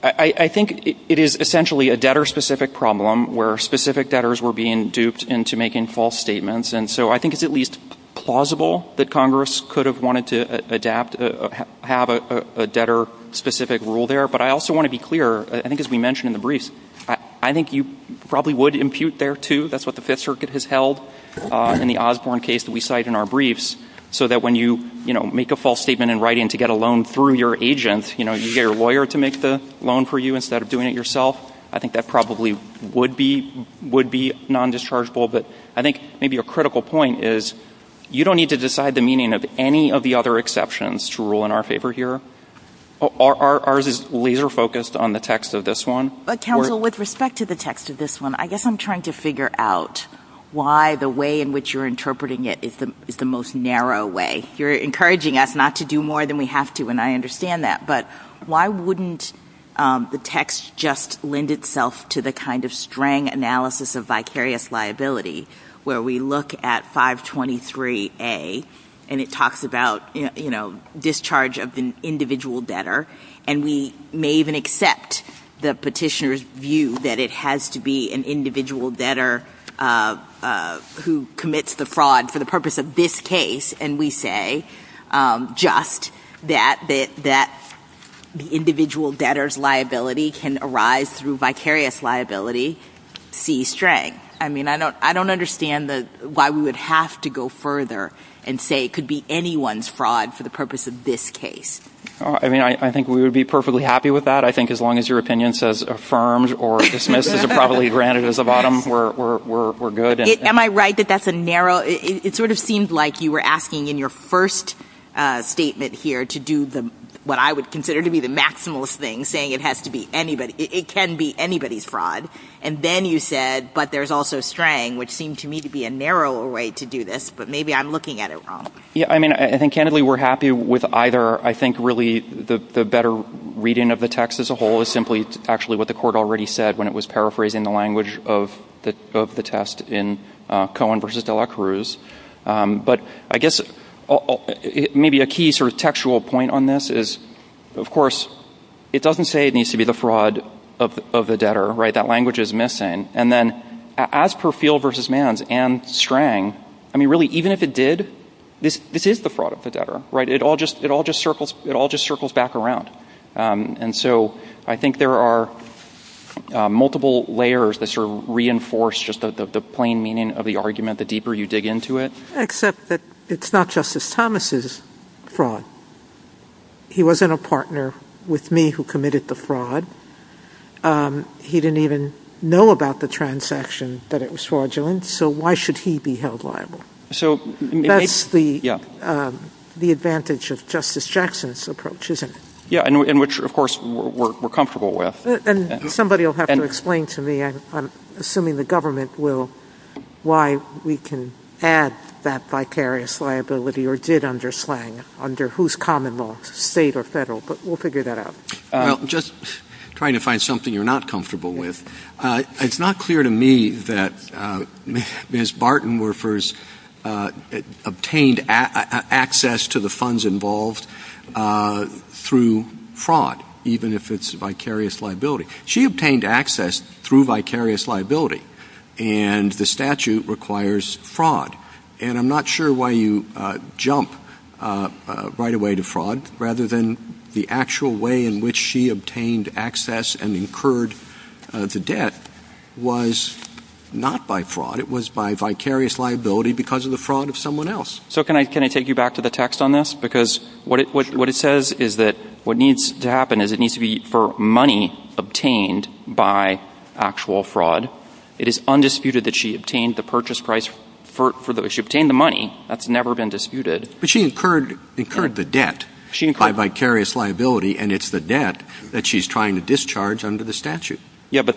I think it is essentially a debtor-specific problem where specific debtors were being duped into making false statements, and so I think it's at least plausible that Congress could have wanted to adapt, have a debtor-specific rule there. But I also want to be clear, I think as we mentioned in the brief, I think you probably would impute there, too. That's what the Fifth Circuit has held in the Osborne case that we cite in our briefs, so that when you make a false statement in writing to get a loan through your agent, you get your lawyer to make the loan for you instead of doing it yourself. I think that probably would be non-dischargeable, but I think maybe a critical point is you don't need to decide the meaning of any of the other exceptions to rule in our favor here. Ours is laser-focused on the text of this one. Counsel, with respect to the text of this one, I guess I'm trying to figure out why the way in which you're interpreting it is the most narrow way. You're encouraging us not to do more than we have to, and I understand that, but why wouldn't the text just lend itself to the kind of strang analysis of vicarious liability, where we look at 523A, and it talks about discharge of an individual debtor, and we may even accept the petitioner's view that it has to be an individual debtor who commits the fraud for the purpose of this case, and we say just that the individual debtor's liability can arise through vicarious liability, C-Straight. I don't understand why we would have to go further and say it could be anyone's fraud for the purpose of this case. I think we would be perfectly happy with that. I think as long as your opinion says affirmed or dismissed, it's probably granted as a bottom, we're good. Am I right that that's a narrow... It sort of seems like you were asking in your first statement here to do what I would consider to be the maximalist thing, saying it can be anybody's fraud, and then you said, but there's also Strang, which seemed to me to be a narrower way to do this, but maybe I'm looking at it wrong. Yeah, I mean, I think candidly we're happy with either. I think really the better reading of the text as a whole is simply actually what the court already said when it was paraphrasing the language of the test in Cohen v. de la Cruz, but I guess maybe a key sort of textual point on this is, of course, it doesn't say it needs to be the fraud of the debtor, right? That language is missing, and then as per Field v. Manns and Strang, I mean, really, even if it did, this is the fraud of the debtor, right? It all just circles back around, and so I think there are multiple layers that sort of reinforce just the plain meaning of the argument the deeper you dig into it. Except that it's not Justice Thomas' fraud. He wasn't a partner with me who committed the fraud. He didn't even know about the transaction that it was fraudulent, so why should he be held liable? So that's the advantage of Justice Jackson's approach, isn't it? Yeah, and which, of course, we're comfortable with. And somebody will have to explain to me, I'm assuming the government will, why we can add that vicarious liability or did under Slang, under whose common law, state or federal, but we'll figure that out. Well, just trying to find something you're not comfortable with. It's not clear to me that Ms. Bartenwerfer's obtained access to the funds involved through fraud, even if it's vicarious liability. She obtained access through vicarious liability, and the statute requires fraud. And I'm not sure why you jump right away to fraud, rather than the actual way in which she obtained access and incurred the debt was not by fraud. It was by vicarious liability because of the fraud of someone else. So can I take you back to the text on this? Because what it says is that what needs to happen is it needs to be for money obtained by actual fraud. It is undisputed that she obtained the purchase price, she obtained the money. That's never been disputed. But she incurred the debt by vicarious liability, and it's the debt that she's trying to discharge under the statute. Yeah, but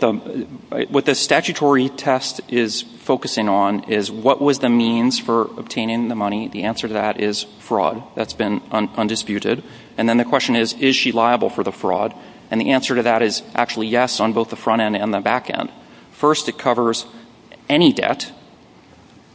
what the statutory test is focusing on is what was the means for obtaining the money. The answer to that is fraud. That's been undisputed. And then the question is, is she liable for the fraud? And the answer to that is actually yes on both the front end and the back end. First, it covers any debt,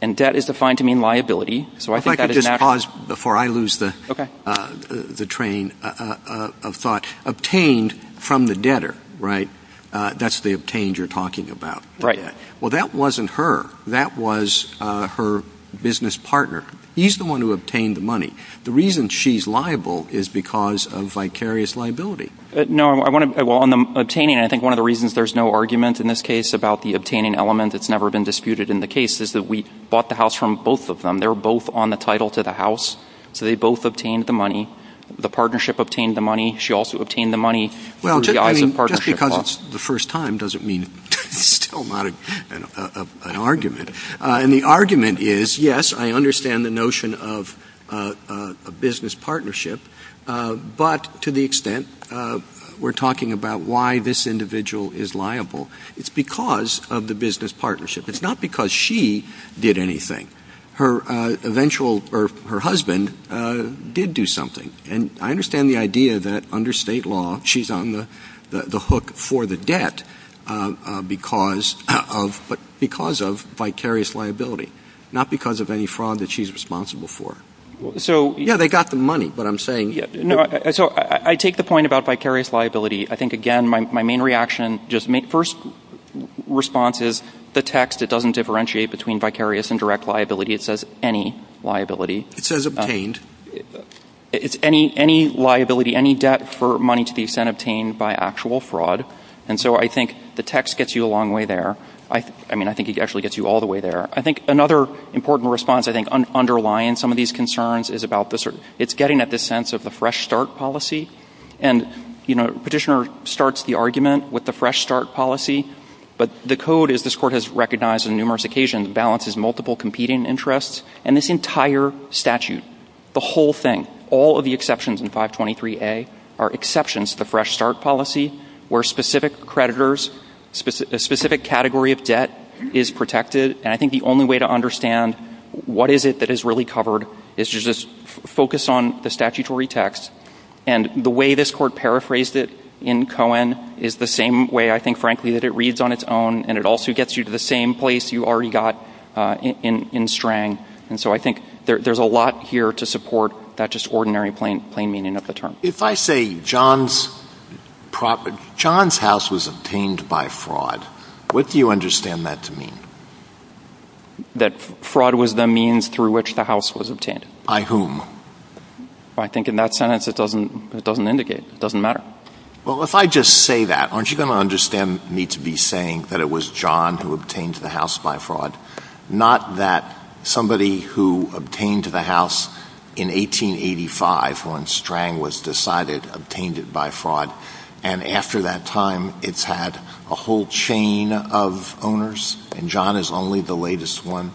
and debt is defined to mean liability. If I could just pause before I lose the train of thought. Obtained from the debtor, right? That's the obtained you're talking about. Right. Well, that wasn't her. That was her business partner. He's the one who obtained the money. The reason she's liable is because of vicarious liability. No, well, on the obtaining, I think one of the reasons there's no argument in this case about the obtaining element that's never been disputed in the case is that we bought the house from both of them. They were both on the title to the house, so they both obtained the money. The partnership obtained the money. She also obtained the money. Well, just because it's the first time doesn't mean it's still not an argument. And the argument is, yes, I understand the notion of a business partnership, but to the extent we're talking about why this individual is liable, it's because of the business partnership. It's not because she did anything. Her husband did do something. And I understand the idea that under state law she's on the hook for the debt because of vicarious liability, not because of any fraud that she's responsible for. Yeah, they got the money, what I'm saying. So I take the point about vicarious liability. I think, again, my main reaction, just first response is the text. It doesn't differentiate between vicarious and direct liability. It says any liability. It says obtained. It's any liability, any debt for money to be sent obtained by actual fraud. And so I think the text gets you a long way there. I mean, I think it actually gets you all the way there. I think another important response, I think, underlying some of these concerns is about this. It's getting at this sense of the fresh start policy. And, you know, petitioner starts the argument with the fresh start policy. But the code is this court has recognized on numerous occasions balances multiple competing interests. And this entire statute, the whole thing, all of the exceptions in 523A are exceptions to fresh start policy where specific creditors, a specific category of debt is protected. And I think the only way to understand what is it that is really covered is to just focus on the statutory text. And the way this court paraphrased it in Cohen is the same way, I think, frankly, that it reads on its own. And it also gets you to the same place you already got in Strang. And so I think there's a lot here to support that just ordinary plain meaning of the term. If I say John's house was obtained by fraud, what do you understand that to mean? That fraud was the means through which the house was obtained. By whom? I think in that sense it doesn't indicate. It doesn't matter. Well, if I just say that, aren't you going to understand me to be saying that it was John who obtained the house by fraud? Not that somebody who obtained the house in 1885 when Strang was decided obtained it by fraud. And after that time it's had a whole chain of owners and John is only the latest one.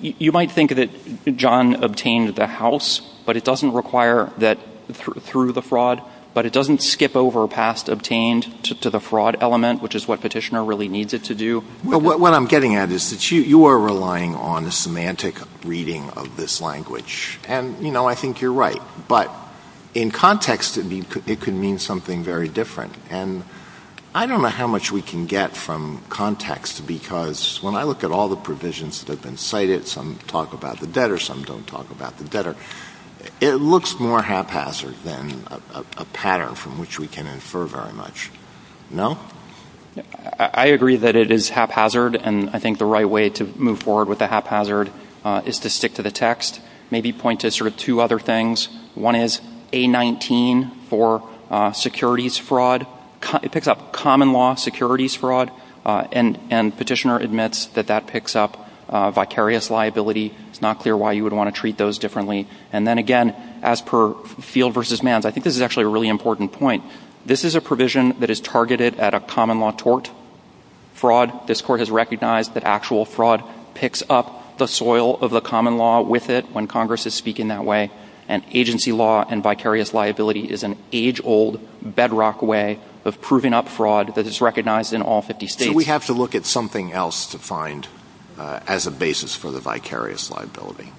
You might think that John obtained the house, but it doesn't require that through the fraud, but it doesn't skip over past obtained to the fraud element, which is what Petitioner really needs it to do. What I'm getting at is that you are relying on a semantic reading of this language. And, you know, I think you're right. But in context it could mean something very different. And I don't know how much we can get from context because when I look at all the provisions that have been cited, some talk about the better, some don't talk about the better, it looks more haphazard than a pattern from which we can infer very much. No? I agree that it is haphazard and I think the right way to move forward with the haphazard is to stick to the text. Maybe point to sort of two other things. One is A-19 for securities fraud. It picks up common law securities fraud and Petitioner admits that that picks up vicarious liability. It's not clear why you would want to treat those differently. And then again, as per Field v. Manns, I think this is actually a really important point. This is a provision that is targeted at a common law tort fraud. This Court has recognized that actual fraud picks up the soil of the common law with it when Congress is speaking that way. And agency law and vicarious liability is an age-old bedrock way of proving up fraud that is recognized in all 50 states. Do we have to look at something else to find as a basis for the vicarious liability?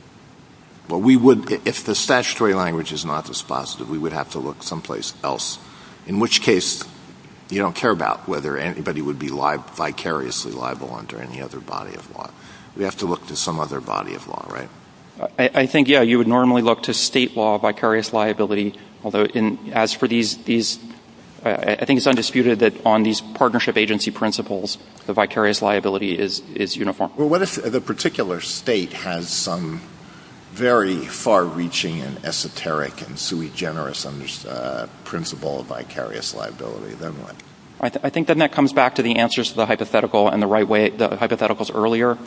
Well, we would if the statutory language is not dispositive. We would have to look someplace else. In which case, you don't care about whether anybody would be vicariously liable under any other body of law. We have to look to some other body of law, right? I think, yeah, you would normally look to state law vicarious liability. Although, as for these, I think it's undisputed that on these partnership agency principles, the vicarious liability is uniform. Well, what if the particular state has some very far-reaching and esoteric and sui generis principle of vicarious liability, then what? I think then that comes back to the answers to the hypotheticals earlier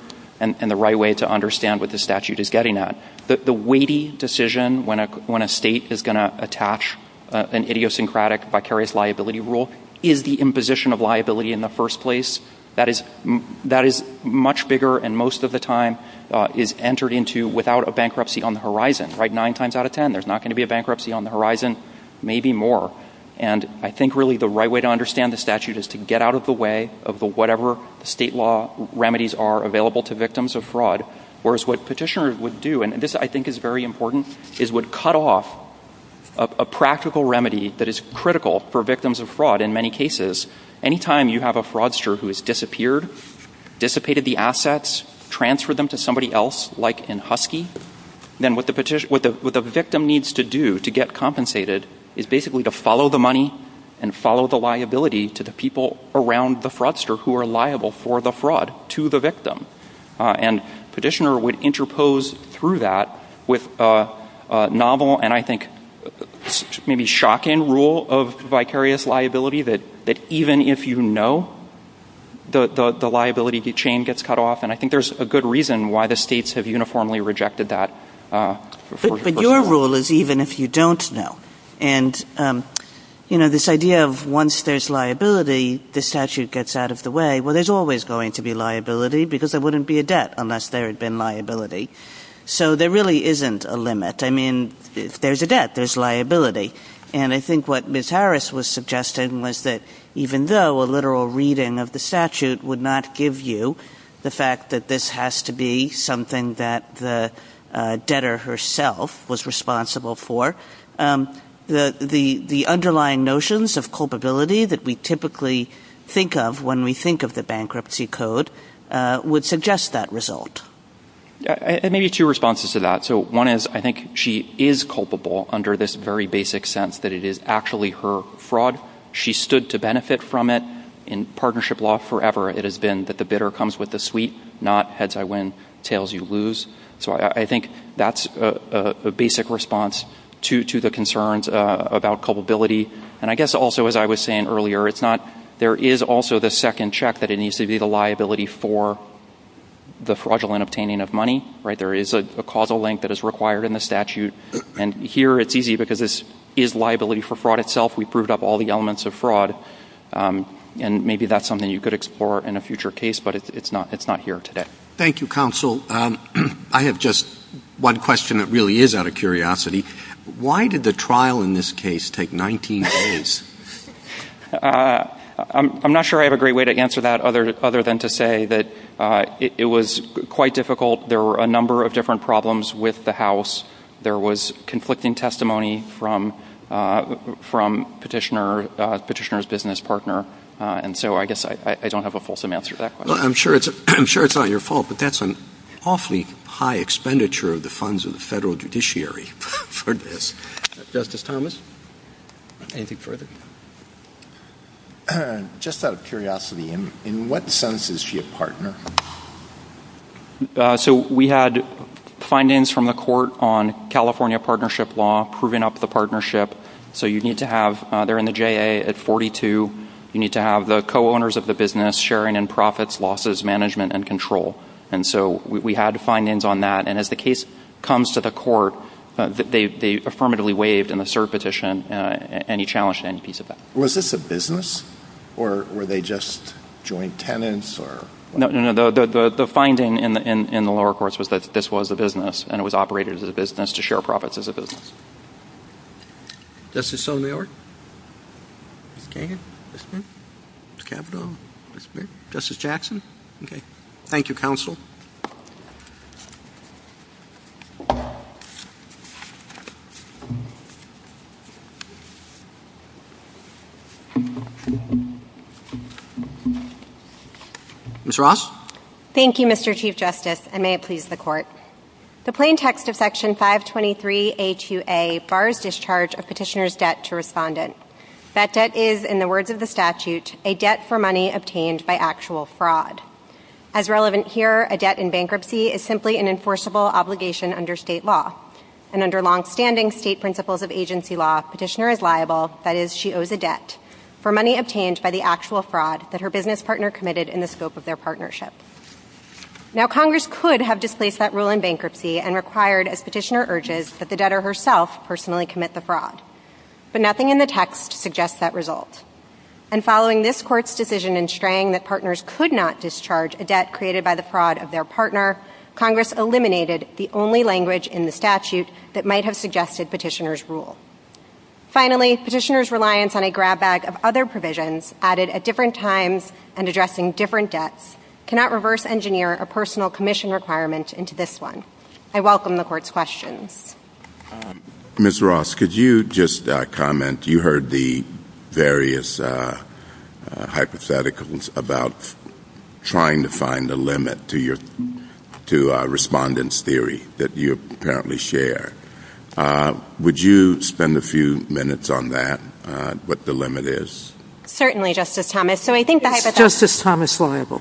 and the right way to understand what the statute is getting at. The weighty decision when a state is going to attach an idiosyncratic vicarious liability rule is the imposition of liability in the first place. That is much bigger and most of the time is entered into without a bankruptcy on the horizon, right? Nine times out of ten, there's not going to be a bankruptcy on the horizon, maybe more. And I think really the right way to understand the statute is to get out of the way of whatever state law remedies are available to victims of fraud. Whereas what petitioners would do, and this I think is very important, is would cut off a practical remedy that is critical for victims of fraud in many cases. Anytime you have a fraudster who has disappeared, dissipated the assets, transferred them to somebody else like in Husky, then what the victim needs to do to get compensated is basically to follow the money and follow the liability to the people around the fraudster who are liable for the fraud to the victim. And petitioner would interpose through that with a novel and I think maybe shocking rule of vicarious liability that even if you know, the liability chain gets cut off. And I think there's a good reason why the states have uniformly rejected that. But your rule is even if you don't know. And this idea of once there's liability, the statute gets out of the way. Well, there's always going to be liability because there wouldn't be a debt unless there had been liability. So there really isn't a limit. I mean, there's a debt, there's liability. And I think what Ms. Harris was suggesting was that even though a literal reading of the statute would not give you the fact that this has to be something that the debtor herself was responsible for, the underlying notions of culpability that we typically think of when we think of the bankruptcy code would suggest that result. There may be two responses to that. So one is I think she is culpable under this very basic sense that it is actually her fraud. She stood to benefit from it. In partnership law forever, it has been that the bidder comes with the sweep, not heads I win, tails you lose. So I think that's a basic response to the concerns about culpability. And I guess also, as I was saying earlier, there is also the second check that it needs to be the liability for the fraudulent obtaining of money. There is a causal link that is required in the statute. And here it's easy because this is liability for fraud itself. We proved up all the elements of fraud. And maybe that's something you could explore in a future case, but it's not here today. Thank you, Counsel. I have just one question that really is out of curiosity. Why did the trial in this case take 19 days? I'm not sure I have a great way to answer that other than to say that it was quite difficult. There were a number of different problems with the house. There was conflicting testimony from Petitioner's business partner. And so I guess I don't have a fulsome answer to that question. Well, I'm sure it's not your fault, but that's an awfully high expenditure of the funds of the federal judiciary for this. Justice Thomas, anything further? Just out of curiosity, in what sense is she a partner? So we had findings from the court on California partnership law proving up the partnership. So you need to have, they're in the JA at 42. You need to have the co-owners of the business sharing in profits, losses, management, and control. And so we had findings on that. And as the case comes to the court, they affirmatively waived in the cert petition any challenge to any piece of that. Was this a business, or were they just joint tenants? No, no, no. The finding in the lower courts was that this was a business, and it was operated as a business to share profits as a business. Justice Sotomayor? Mr. Kagan? Mr. Kavanaugh? Justice Jackson? Okay. Thank you, counsel. Ms. Ross? Thank you, Mr. Chief Justice, and may it please the court. The plain text of Section 523A2A bars discharge of petitioner's debt to respondent. That debt is, in the words of the statute, a debt for money obtained by actual fraud. As relevant here, a debt in bankruptcy is simply an enforceable obligation under state law. And under longstanding state principles of agency law, petitioner is liable, that is, she owes a debt, for money obtained by the actual fraud that her business partner committed in the scope of their partnership. Now, Congress could have displaced that rule in bankruptcy and required, as petitioner urges, that the debtor herself personally commit the fraud. But nothing in the text suggests that result. And following this court's decision in Strang that partners could not discharge a debt created by the fraud of their partner, Congress eliminated the only language in the statute that might have suggested petitioner's rule. Finally, petitioner's reliance on a grab bag of other provisions added at different times and addressing different debts cannot reverse engineer a personal commission requirement into this one. I welcome the court's question. Ms. Ross, could you just comment? You heard the various hypotheticals about trying to find the limit to your respondent's theory that you apparently share. Would you spend a few minutes on that, what the limit is? Certainly, Justice Thomas. Is Justice Thomas liable for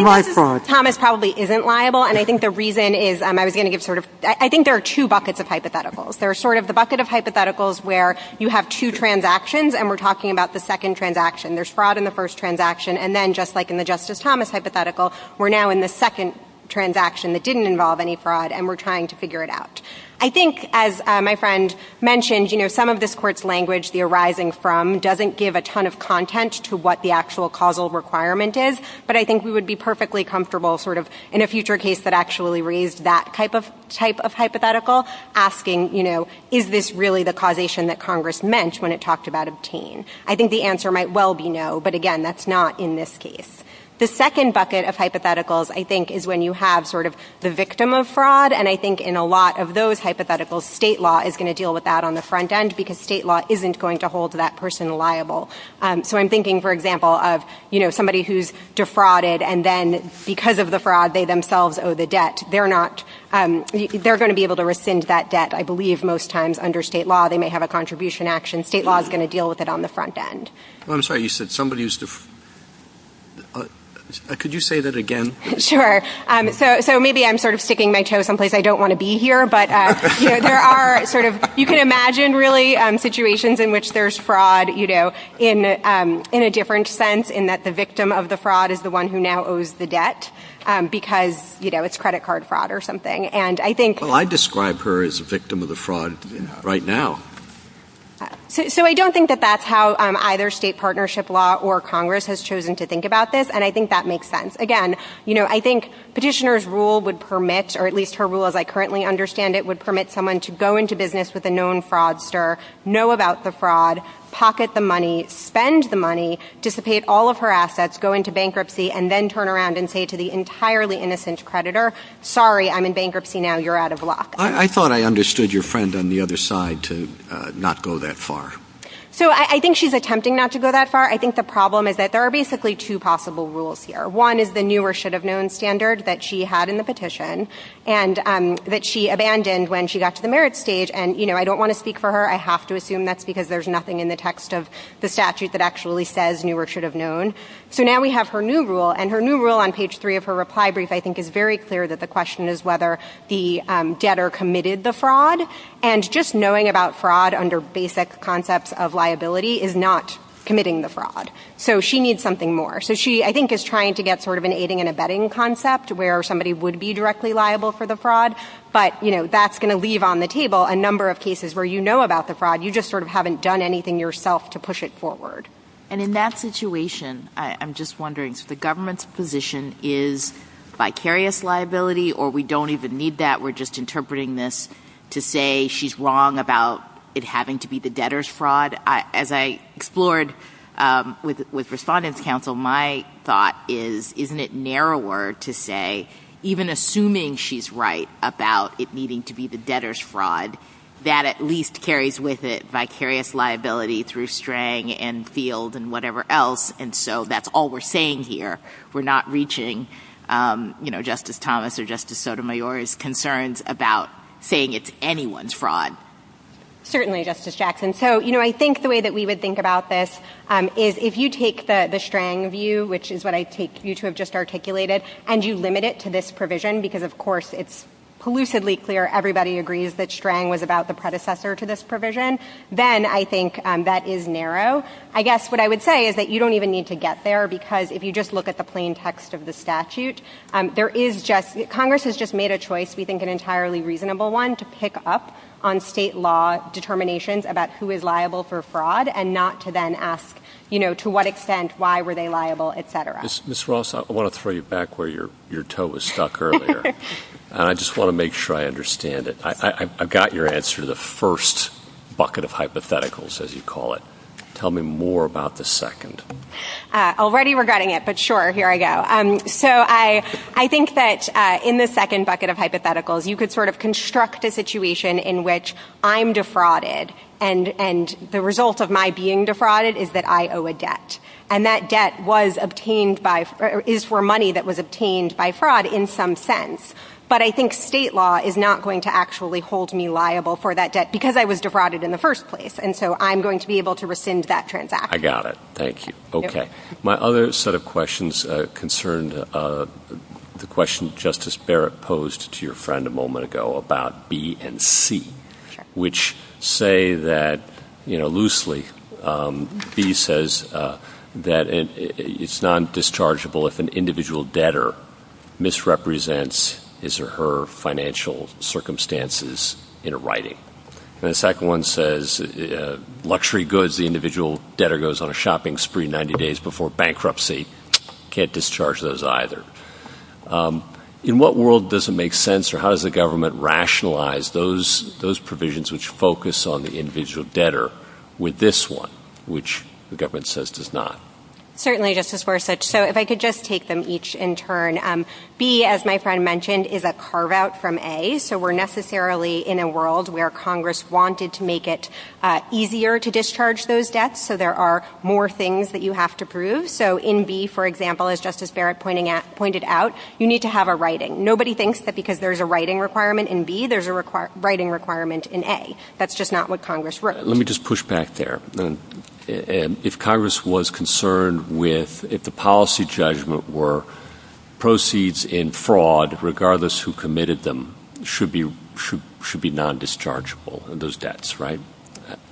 my fraud? Justice Thomas probably isn't liable. And I think the reason is, I was going to give sort of, I think there are two buckets of hypotheticals. There's sort of the bucket of hypotheticals where you have two transactions, and we're talking about the second transaction. There's fraud in the first transaction. And then, just like in the Justice Thomas hypothetical, we're now in the second transaction that didn't involve any fraud, and we're trying to figure it out. I think, as my friend mentioned, you know, some of this court's language, the arising from, doesn't give a ton of content to what the actual causal requirement is, but I think we would be perfectly comfortable sort of, in a future case that actually raised that type of hypothetical, asking, you know, is this really the causation that Congress meant when it talked about obtain? I think the answer might well be no, but again, that's not in this case. The second bucket of hypotheticals, I think, is when you have sort of the victim of fraud, and I think in a lot of those hypotheticals, state law is going to deal with that on the front end, because state law isn't going to hold that person liable. So, I'm thinking, for example, of, you know, somebody who's defrauded, and then, because of the fraud, they themselves owe the debt. They're not, they're going to be able to rescind that debt, I believe, most times under state law. They may have a contribution action. State law is going to deal with it on the front end. Well, I'm sorry, you said somebody's, could you say that again? Sure. So, maybe I'm sort of sticking my toe someplace I don't want to be here, but there are sort of, you can imagine, really, situations in which there's fraud, you know, in a different sense, in that the victim of the fraud is the one who now owes the debt, because, you know, it's credit card fraud or something, and I think. Well, I'd describe her as a victim of the fraud right now. So, I don't think that that's how either state partnership law or Congress has chosen to think about this, and I think that makes sense. Again, you know, I think petitioner's rule would permit, or at least her rule as I currently understand it, would permit someone to go into business with a known fraudster, know about the fraud, pocket the money, spend the money, dissipate all of her assets, go into bankruptcy, and then turn around and say to the entirely innocent creditor, sorry, I'm in bankruptcy now, you're out of luck. I thought I understood your friend on the other side to not go that far. So, I think she's attempting not to go that far. I think the problem is that there are basically two possible rules here. One is the new or should have known standard that she had in the petition, and that she abandoned when she got to the merit stage, and, you know, I don't want to speak for her. I have to assume that's because there's nothing in the text of the statute that actually says new or should have known. So, now we have her new rule, and her new rule on page three of her reply brief, I think, is very clear that the question is whether the debtor committed the fraud, and just knowing about fraud under basic concepts of liability is not committing the fraud. So, she needs something more. So, she, I think, is trying to get sort of an aiding and abetting concept, where somebody would be directly liable for the fraud. But, you know, that's going to leave on the table a number of cases where you know about the fraud, you just sort of haven't done anything yourself to push it forward. And in that situation, I'm just wondering, so the government's position is vicarious liability, or we don't even need that, we're just interpreting this to say she's wrong about it having to be the debtor's fraud? And as I explored with Respondent's Counsel, my thought is, isn't it narrower to say, even assuming she's right about it needing to be the debtor's fraud, that at least carries with it vicarious liability through Strang and Field and whatever else, and so that's all we're saying here. We're not reaching, you know, Justice Thomas or Justice Sotomayor's concerns about saying it's anyone's fraud. Certainly, Justice Jackson. So, you know, I think the way that we would think about this is if you take the Strang view, which is what I take you to have just articulated, and you limit it to this provision, because of course it's elusively clear everybody agrees that Strang was about the predecessor to this provision, then I think that is narrow. I guess what I would say is that you don't even need to get there, because if you just look at the plain text of the statute, there is just – to pick up on state law determinations about who is liable for fraud and not to then ask, you know, to what extent, why were they liable, et cetera. Ms. Ross, I want to throw you back where your toe was stuck earlier, and I just want to make sure I understand it. I got your answer to the first bucket of hypotheticals, as you call it. Tell me more about the second. Already regretting it, but sure, here I go. So I think that in the second bucket of hypotheticals, you could sort of construct a situation in which I'm defrauded, and the result of my being defrauded is that I owe a debt, and that debt was obtained by – is for money that was obtained by fraud in some sense. But I think state law is not going to actually hold me liable for that debt because I was defrauded in the first place, and so I'm going to be able to rescind that transaction. I got it. Thank you. Okay. My other set of questions concerned the question Justice Barrett posed to your friend a moment ago about B and C, which say that, you know, loosely, B says that it's non-dischargeable if an individual debtor misrepresents his or her financial circumstances in writing. And the second one says luxury goods, the individual debtor goes on a shopping spree 90 days before bankruptcy. Can't discharge those either. In what world does it make sense, or how does the government rationalize those provisions which focus on the individual debtor with this one, which the government says does not? Certainly, Justice Forsuch. So if I could just take them each in turn. B, as my friend mentioned, is a carve-out from A, so we're necessarily in a world where Congress wanted to make it easier to discharge those debts, so there are more things that you have to prove. So in B, for example, as Justice Barrett pointed out, you need to have a writing. Nobody thinks that because there's a writing requirement in B, there's a writing requirement in A. That's just not what Congress wrote. Let me just push back there. If Congress was concerned with if the policy judgment were proceeds in fraud, regardless who committed them, should be non-dischargeable, those debts, right?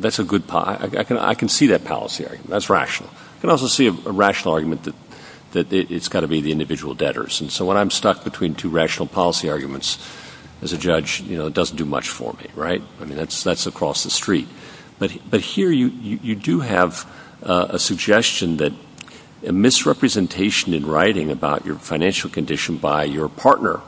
I can see that policy argument. That's rational. I can also see a rational argument that it's got to be the individual debtors. And so when I'm stuck between two rational policy arguments, as a judge, it doesn't do much for me, right? That's across the street. But here you do have a suggestion that a misrepresentation in writing about your financial condition by your partner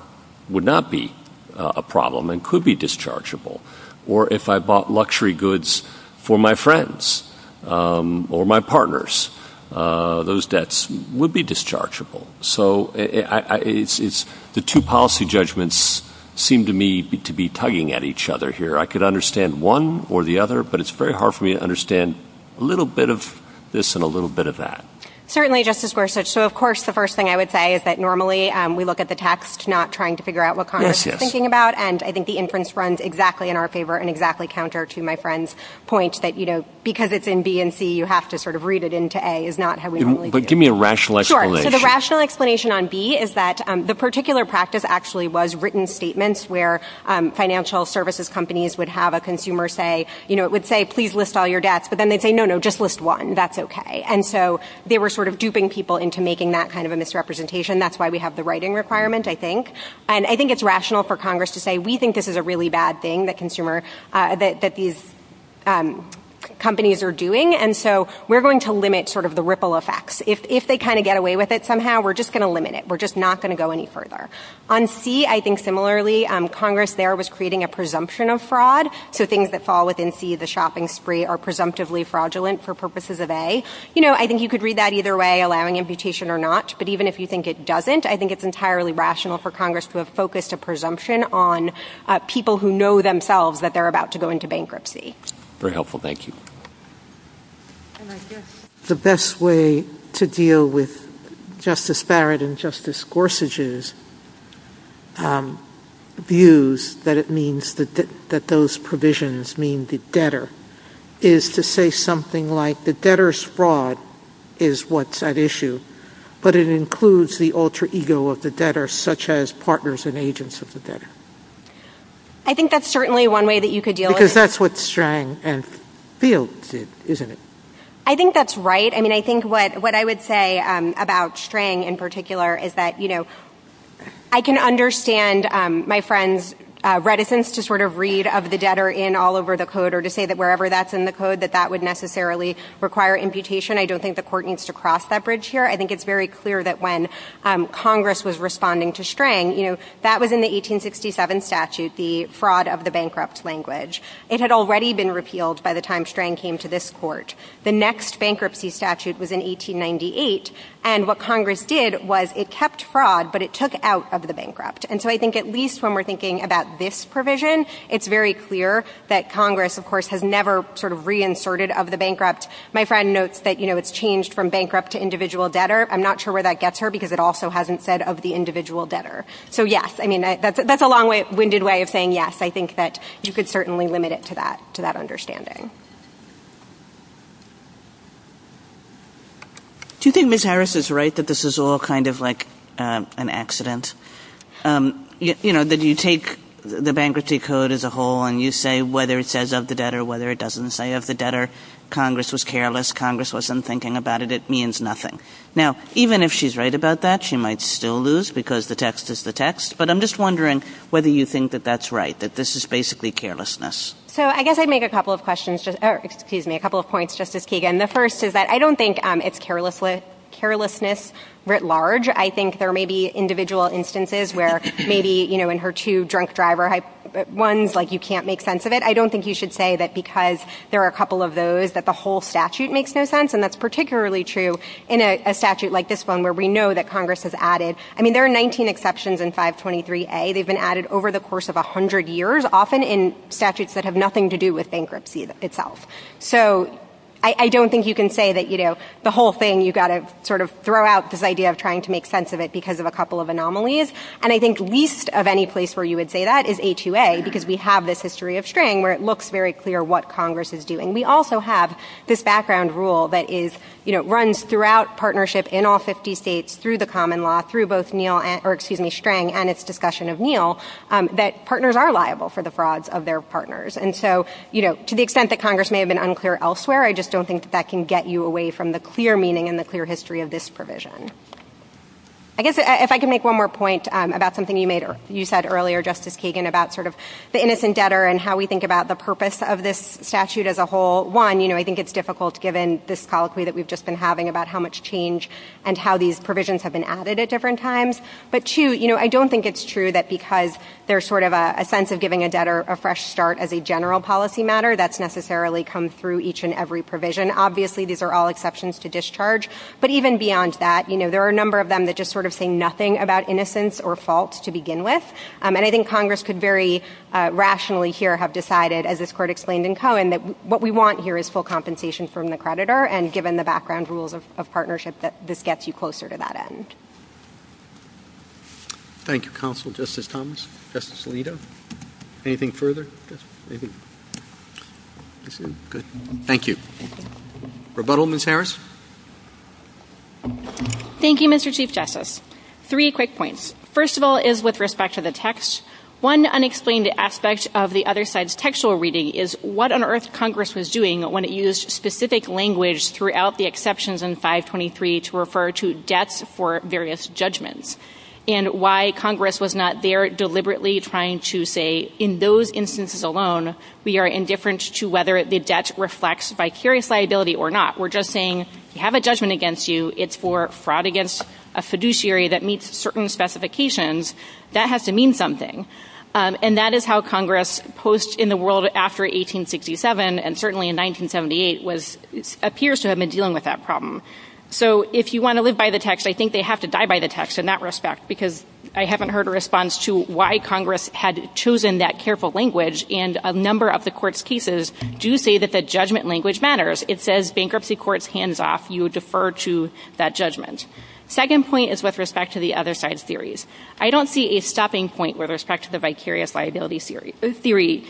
would not be a problem and could be dischargeable. Or if I bought luxury goods for my friends or my partners, those debts would be dischargeable. So the two policy judgments seem to me to be tugging at each other here. I could understand one or the other, but it's very hard for me to understand a little bit of this and a little bit of that. Certainly, Justice Gorsuch. So, of course, the first thing I would say is that normally we look at the text, not trying to figure out what Congress is thinking about. And I think the inference runs exactly in our favor and exactly counter to my friend's point that, you know, because it's in B and C, you have to sort of read it into A. But give me a rational explanation. So the rational explanation on B is that the particular practice actually was written statements where financial services companies would have a consumer say, you know, it would say, please list all your debts. But then they'd say, no, no, just list one. That's okay. And so they were sort of duping people into making that kind of a misrepresentation. That's why we have the writing requirement, I think. And I think it's rational for Congress to say, we think this is a really bad thing that these companies are doing. And so we're going to limit sort of the ripple effects. If they kind of get away with it somehow, we're just going to limit it. We're just not going to go any further. On C, I think similarly, Congress there was creating a presumption of fraud. So things that fall within C, the shopping spree, are presumptively fraudulent for purposes of A. You know, I think you could read that either way, allowing imputation or not. But even if you think it doesn't, I think it's entirely rational for Congress to have focused a presumption on people who know themselves that they're about to go into bankruptcy. Very helpful. Thank you. The best way to deal with Justice Barrett and Justice Gorsuch's views that it means that those provisions mean the debtor is to say something like, the debtor's fraud is what's at issue. But it includes the alter ego of the debtor, such as partners and agents of the debtor. I think that's certainly one way that you could deal with it. Because that's what Strang and Fields did, isn't it? I think that's right. I mean, I think what I would say about Strang in particular is that, you know, I can understand my friend's reticence to sort of read of the debtor in all over the code or to say that wherever that's in the code that that would necessarily require imputation. I don't think the court needs to cross that bridge here. I think it's very clear that when Congress was responding to Strang, you know, that was in the 1867 statute, the fraud of the bankrupt language. It had already been repealed by the time Strang came to this court. The next bankruptcy statute was in 1898, and what Congress did was it kept fraud, but it took out of the bankrupt. And so I think at least when we're thinking about this provision, it's very clear that Congress, of course, has never sort of reinserted of the bankrupt. My friend notes that, you know, it's changed from bankrupt to individual debtor. I'm not sure where that gets her because it also hasn't said of the individual debtor. So yes, I mean, that's a long-winded way of saying yes. I think that you could certainly limit it to that understanding. Do you think Ms. Harris is right that this is all kind of like an accident? You know, that you take the bankruptcy code as a whole and you say whether it says of the debtor, whether it doesn't say of the debtor, Congress was careless, Congress wasn't thinking about it, it means nothing. Now, even if she's right about that, she might still lose because the text is the text. But I'm just wondering whether you think that that's right, that this is basically carelessness. So I guess I'd make a couple of questions. Excuse me, a couple of points, Justice Kagan. The first is that I don't think it's carelessness writ large. I think there may be individual instances where maybe, you know, in her two drunk driver ones, like you can't make sense of it. I don't think you should say that because there are a couple of those that the whole statute makes no sense, and that's particularly true in a statute like this one where we know that Congress has added. I mean, there are 19 exceptions in 523A. They've been added over the course of 100 years, often in statutes that have nothing to do with bankruptcy itself. So I don't think you can say that, you know, the whole thing, you've got to sort of throw out this idea of trying to make sense of it because of a couple of anomalies. And I think least of any place where you would say that is HUA because we have this history of string where it looks very clear what Congress is doing. We also have this background rule that is, you know, runs throughout partnership in all 50 states, through the common law, through both Neal, or excuse me, string and its discussion of Neal, that partners are liable for the frauds of their partners. And so, you know, to the extent that Congress may have been unclear elsewhere, I just don't think that can get you away from the clear meaning and the clear history of this provision. I guess if I can make one more point about something you said earlier, Justice Kagan, about sort of the innocent debtor and how we think about the purpose of this statute as a whole. One, you know, I think it's difficult given this colloquy that we've just been having about how much change and how these provisions have been added at different times. But two, you know, I don't think it's true that because there's sort of a sense of giving a debtor a fresh start as a general policy matter, that's necessarily come through each and every provision. Obviously, these are all exceptions to discharge, but even beyond that, you know, there are a number of them that just sort of say nothing about innocence or faults to begin with. And I think Congress could very rationally here have decided, as this court explained in Cohen, that what we want here is full compensation from the creditor, and given the background rules of partnership, that this gets you closer to that end. Thank you, Counselor Justice Thomas. Justice Alito, anything further? Thank you. Rebuttal, Ms. Harris? Thank you, Mr. Chief Justice. Three quick points. First of all is with respect to the text. One unexplained aspect of the other side's textual reading is what on earth Congress was doing when it used specific language throughout the exceptions in 523 to refer to debts for various judgments and why Congress was not there deliberately trying to say, in those instances alone, we are indifferent to whether the debt reflects vicarious liability or not. We're just saying you have a judgment against you. It's for fraud against a fiduciary that meets certain specifications. That has to mean something. And that is how Congress posed in the world after 1867 and certainly in 1978 appears to have been dealing with that problem. So if you want to live by the text, I think they have to die by the text in that respect because I haven't heard a response to why Congress had chosen that careful language. And a number of the Court's cases do say that the judgment language matters. First, it says bankruptcy court's hands off. You defer to that judgment. Second point is with respect to the other side's theories. I don't see a stopping point with respect to the vicarious liability theory.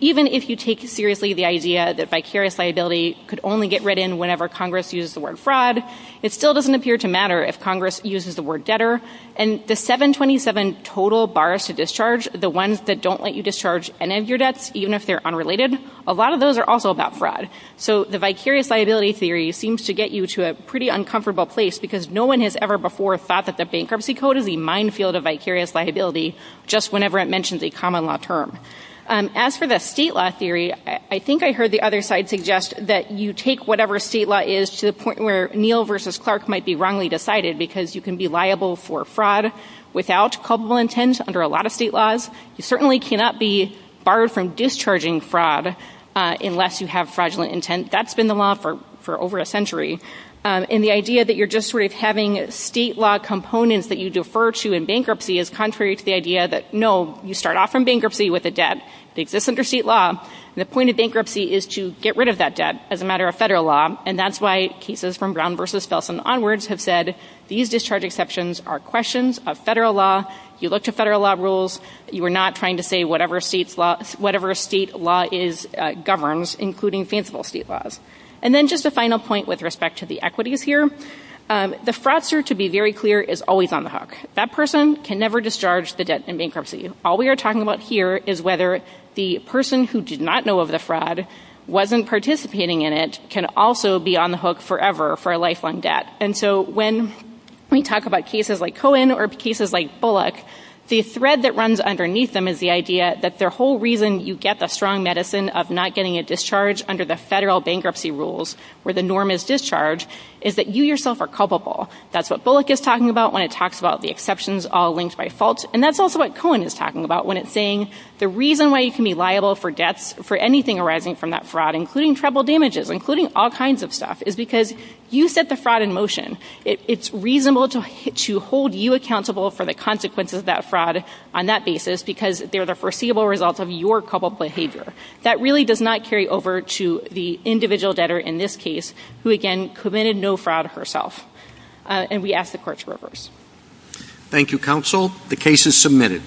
Even if you take seriously the idea that vicarious liability could only get written whenever Congress used the word fraud, it still doesn't appear to matter if Congress uses the word debtor. And the 727 total bars to discharge, the ones that don't let you discharge any of your debts, even if they're unrelated, a lot of those are also about fraud. So the vicarious liability theory seems to get you to a pretty uncomfortable place because no one has ever before thought that the bankruptcy code is a minefield of vicarious liability just whenever it mentions a common law term. As for the state law theory, I think I heard the other side suggest that you take whatever state law is to the point where Neal v. Clark might be wrongly decided because you can be liable for fraud without culpable intent under a lot of state laws. You certainly cannot be barred from discharging fraud unless you have fraudulent intent. That's been the law for over a century. And the idea that you're just sort of having state law components that you defer to in bankruptcy is contrary to the idea that, no, you start off from bankruptcy with a debt that exists under state law, and the point of bankruptcy is to get rid of that debt as a matter of federal law. And that's why cases from Brown v. Felson onwards have said these discharge exceptions are questions of federal law. You look to federal law rules. You are not trying to say whatever state law governs, including fanciful state laws. And then just a final point with respect to the equities here. The fraudster, to be very clear, is always on the hook. That person can never discharge the debt in bankruptcy. All we are talking about here is whether the person who did not know of the fraud wasn't participating in it can also be on the hook forever for a lifelong debt. And so when we talk about cases like Cohen or cases like Bullock, the thread that runs underneath them is the idea that the whole reason you get the strong medicine of not getting a discharge under the federal bankruptcy rules where the norm is discharge is that you yourself are culpable. That's what Bullock is talking about when it talks about the exceptions all linked by fault, and that's also what Cohen is talking about when it's saying the reason why you can be liable for debt for anything arising from that fraud, including travel damages, including all kinds of stuff, is because you set the fraud in motion. It's reasonable to hold you accountable for the consequences of that fraud on that basis because they're the foreseeable result of your culpable behavior. That really does not carry over to the individual debtor in this case who, again, committed no fraud herself. And we ask the court to reverse. Thank you, counsel. The case is submitted.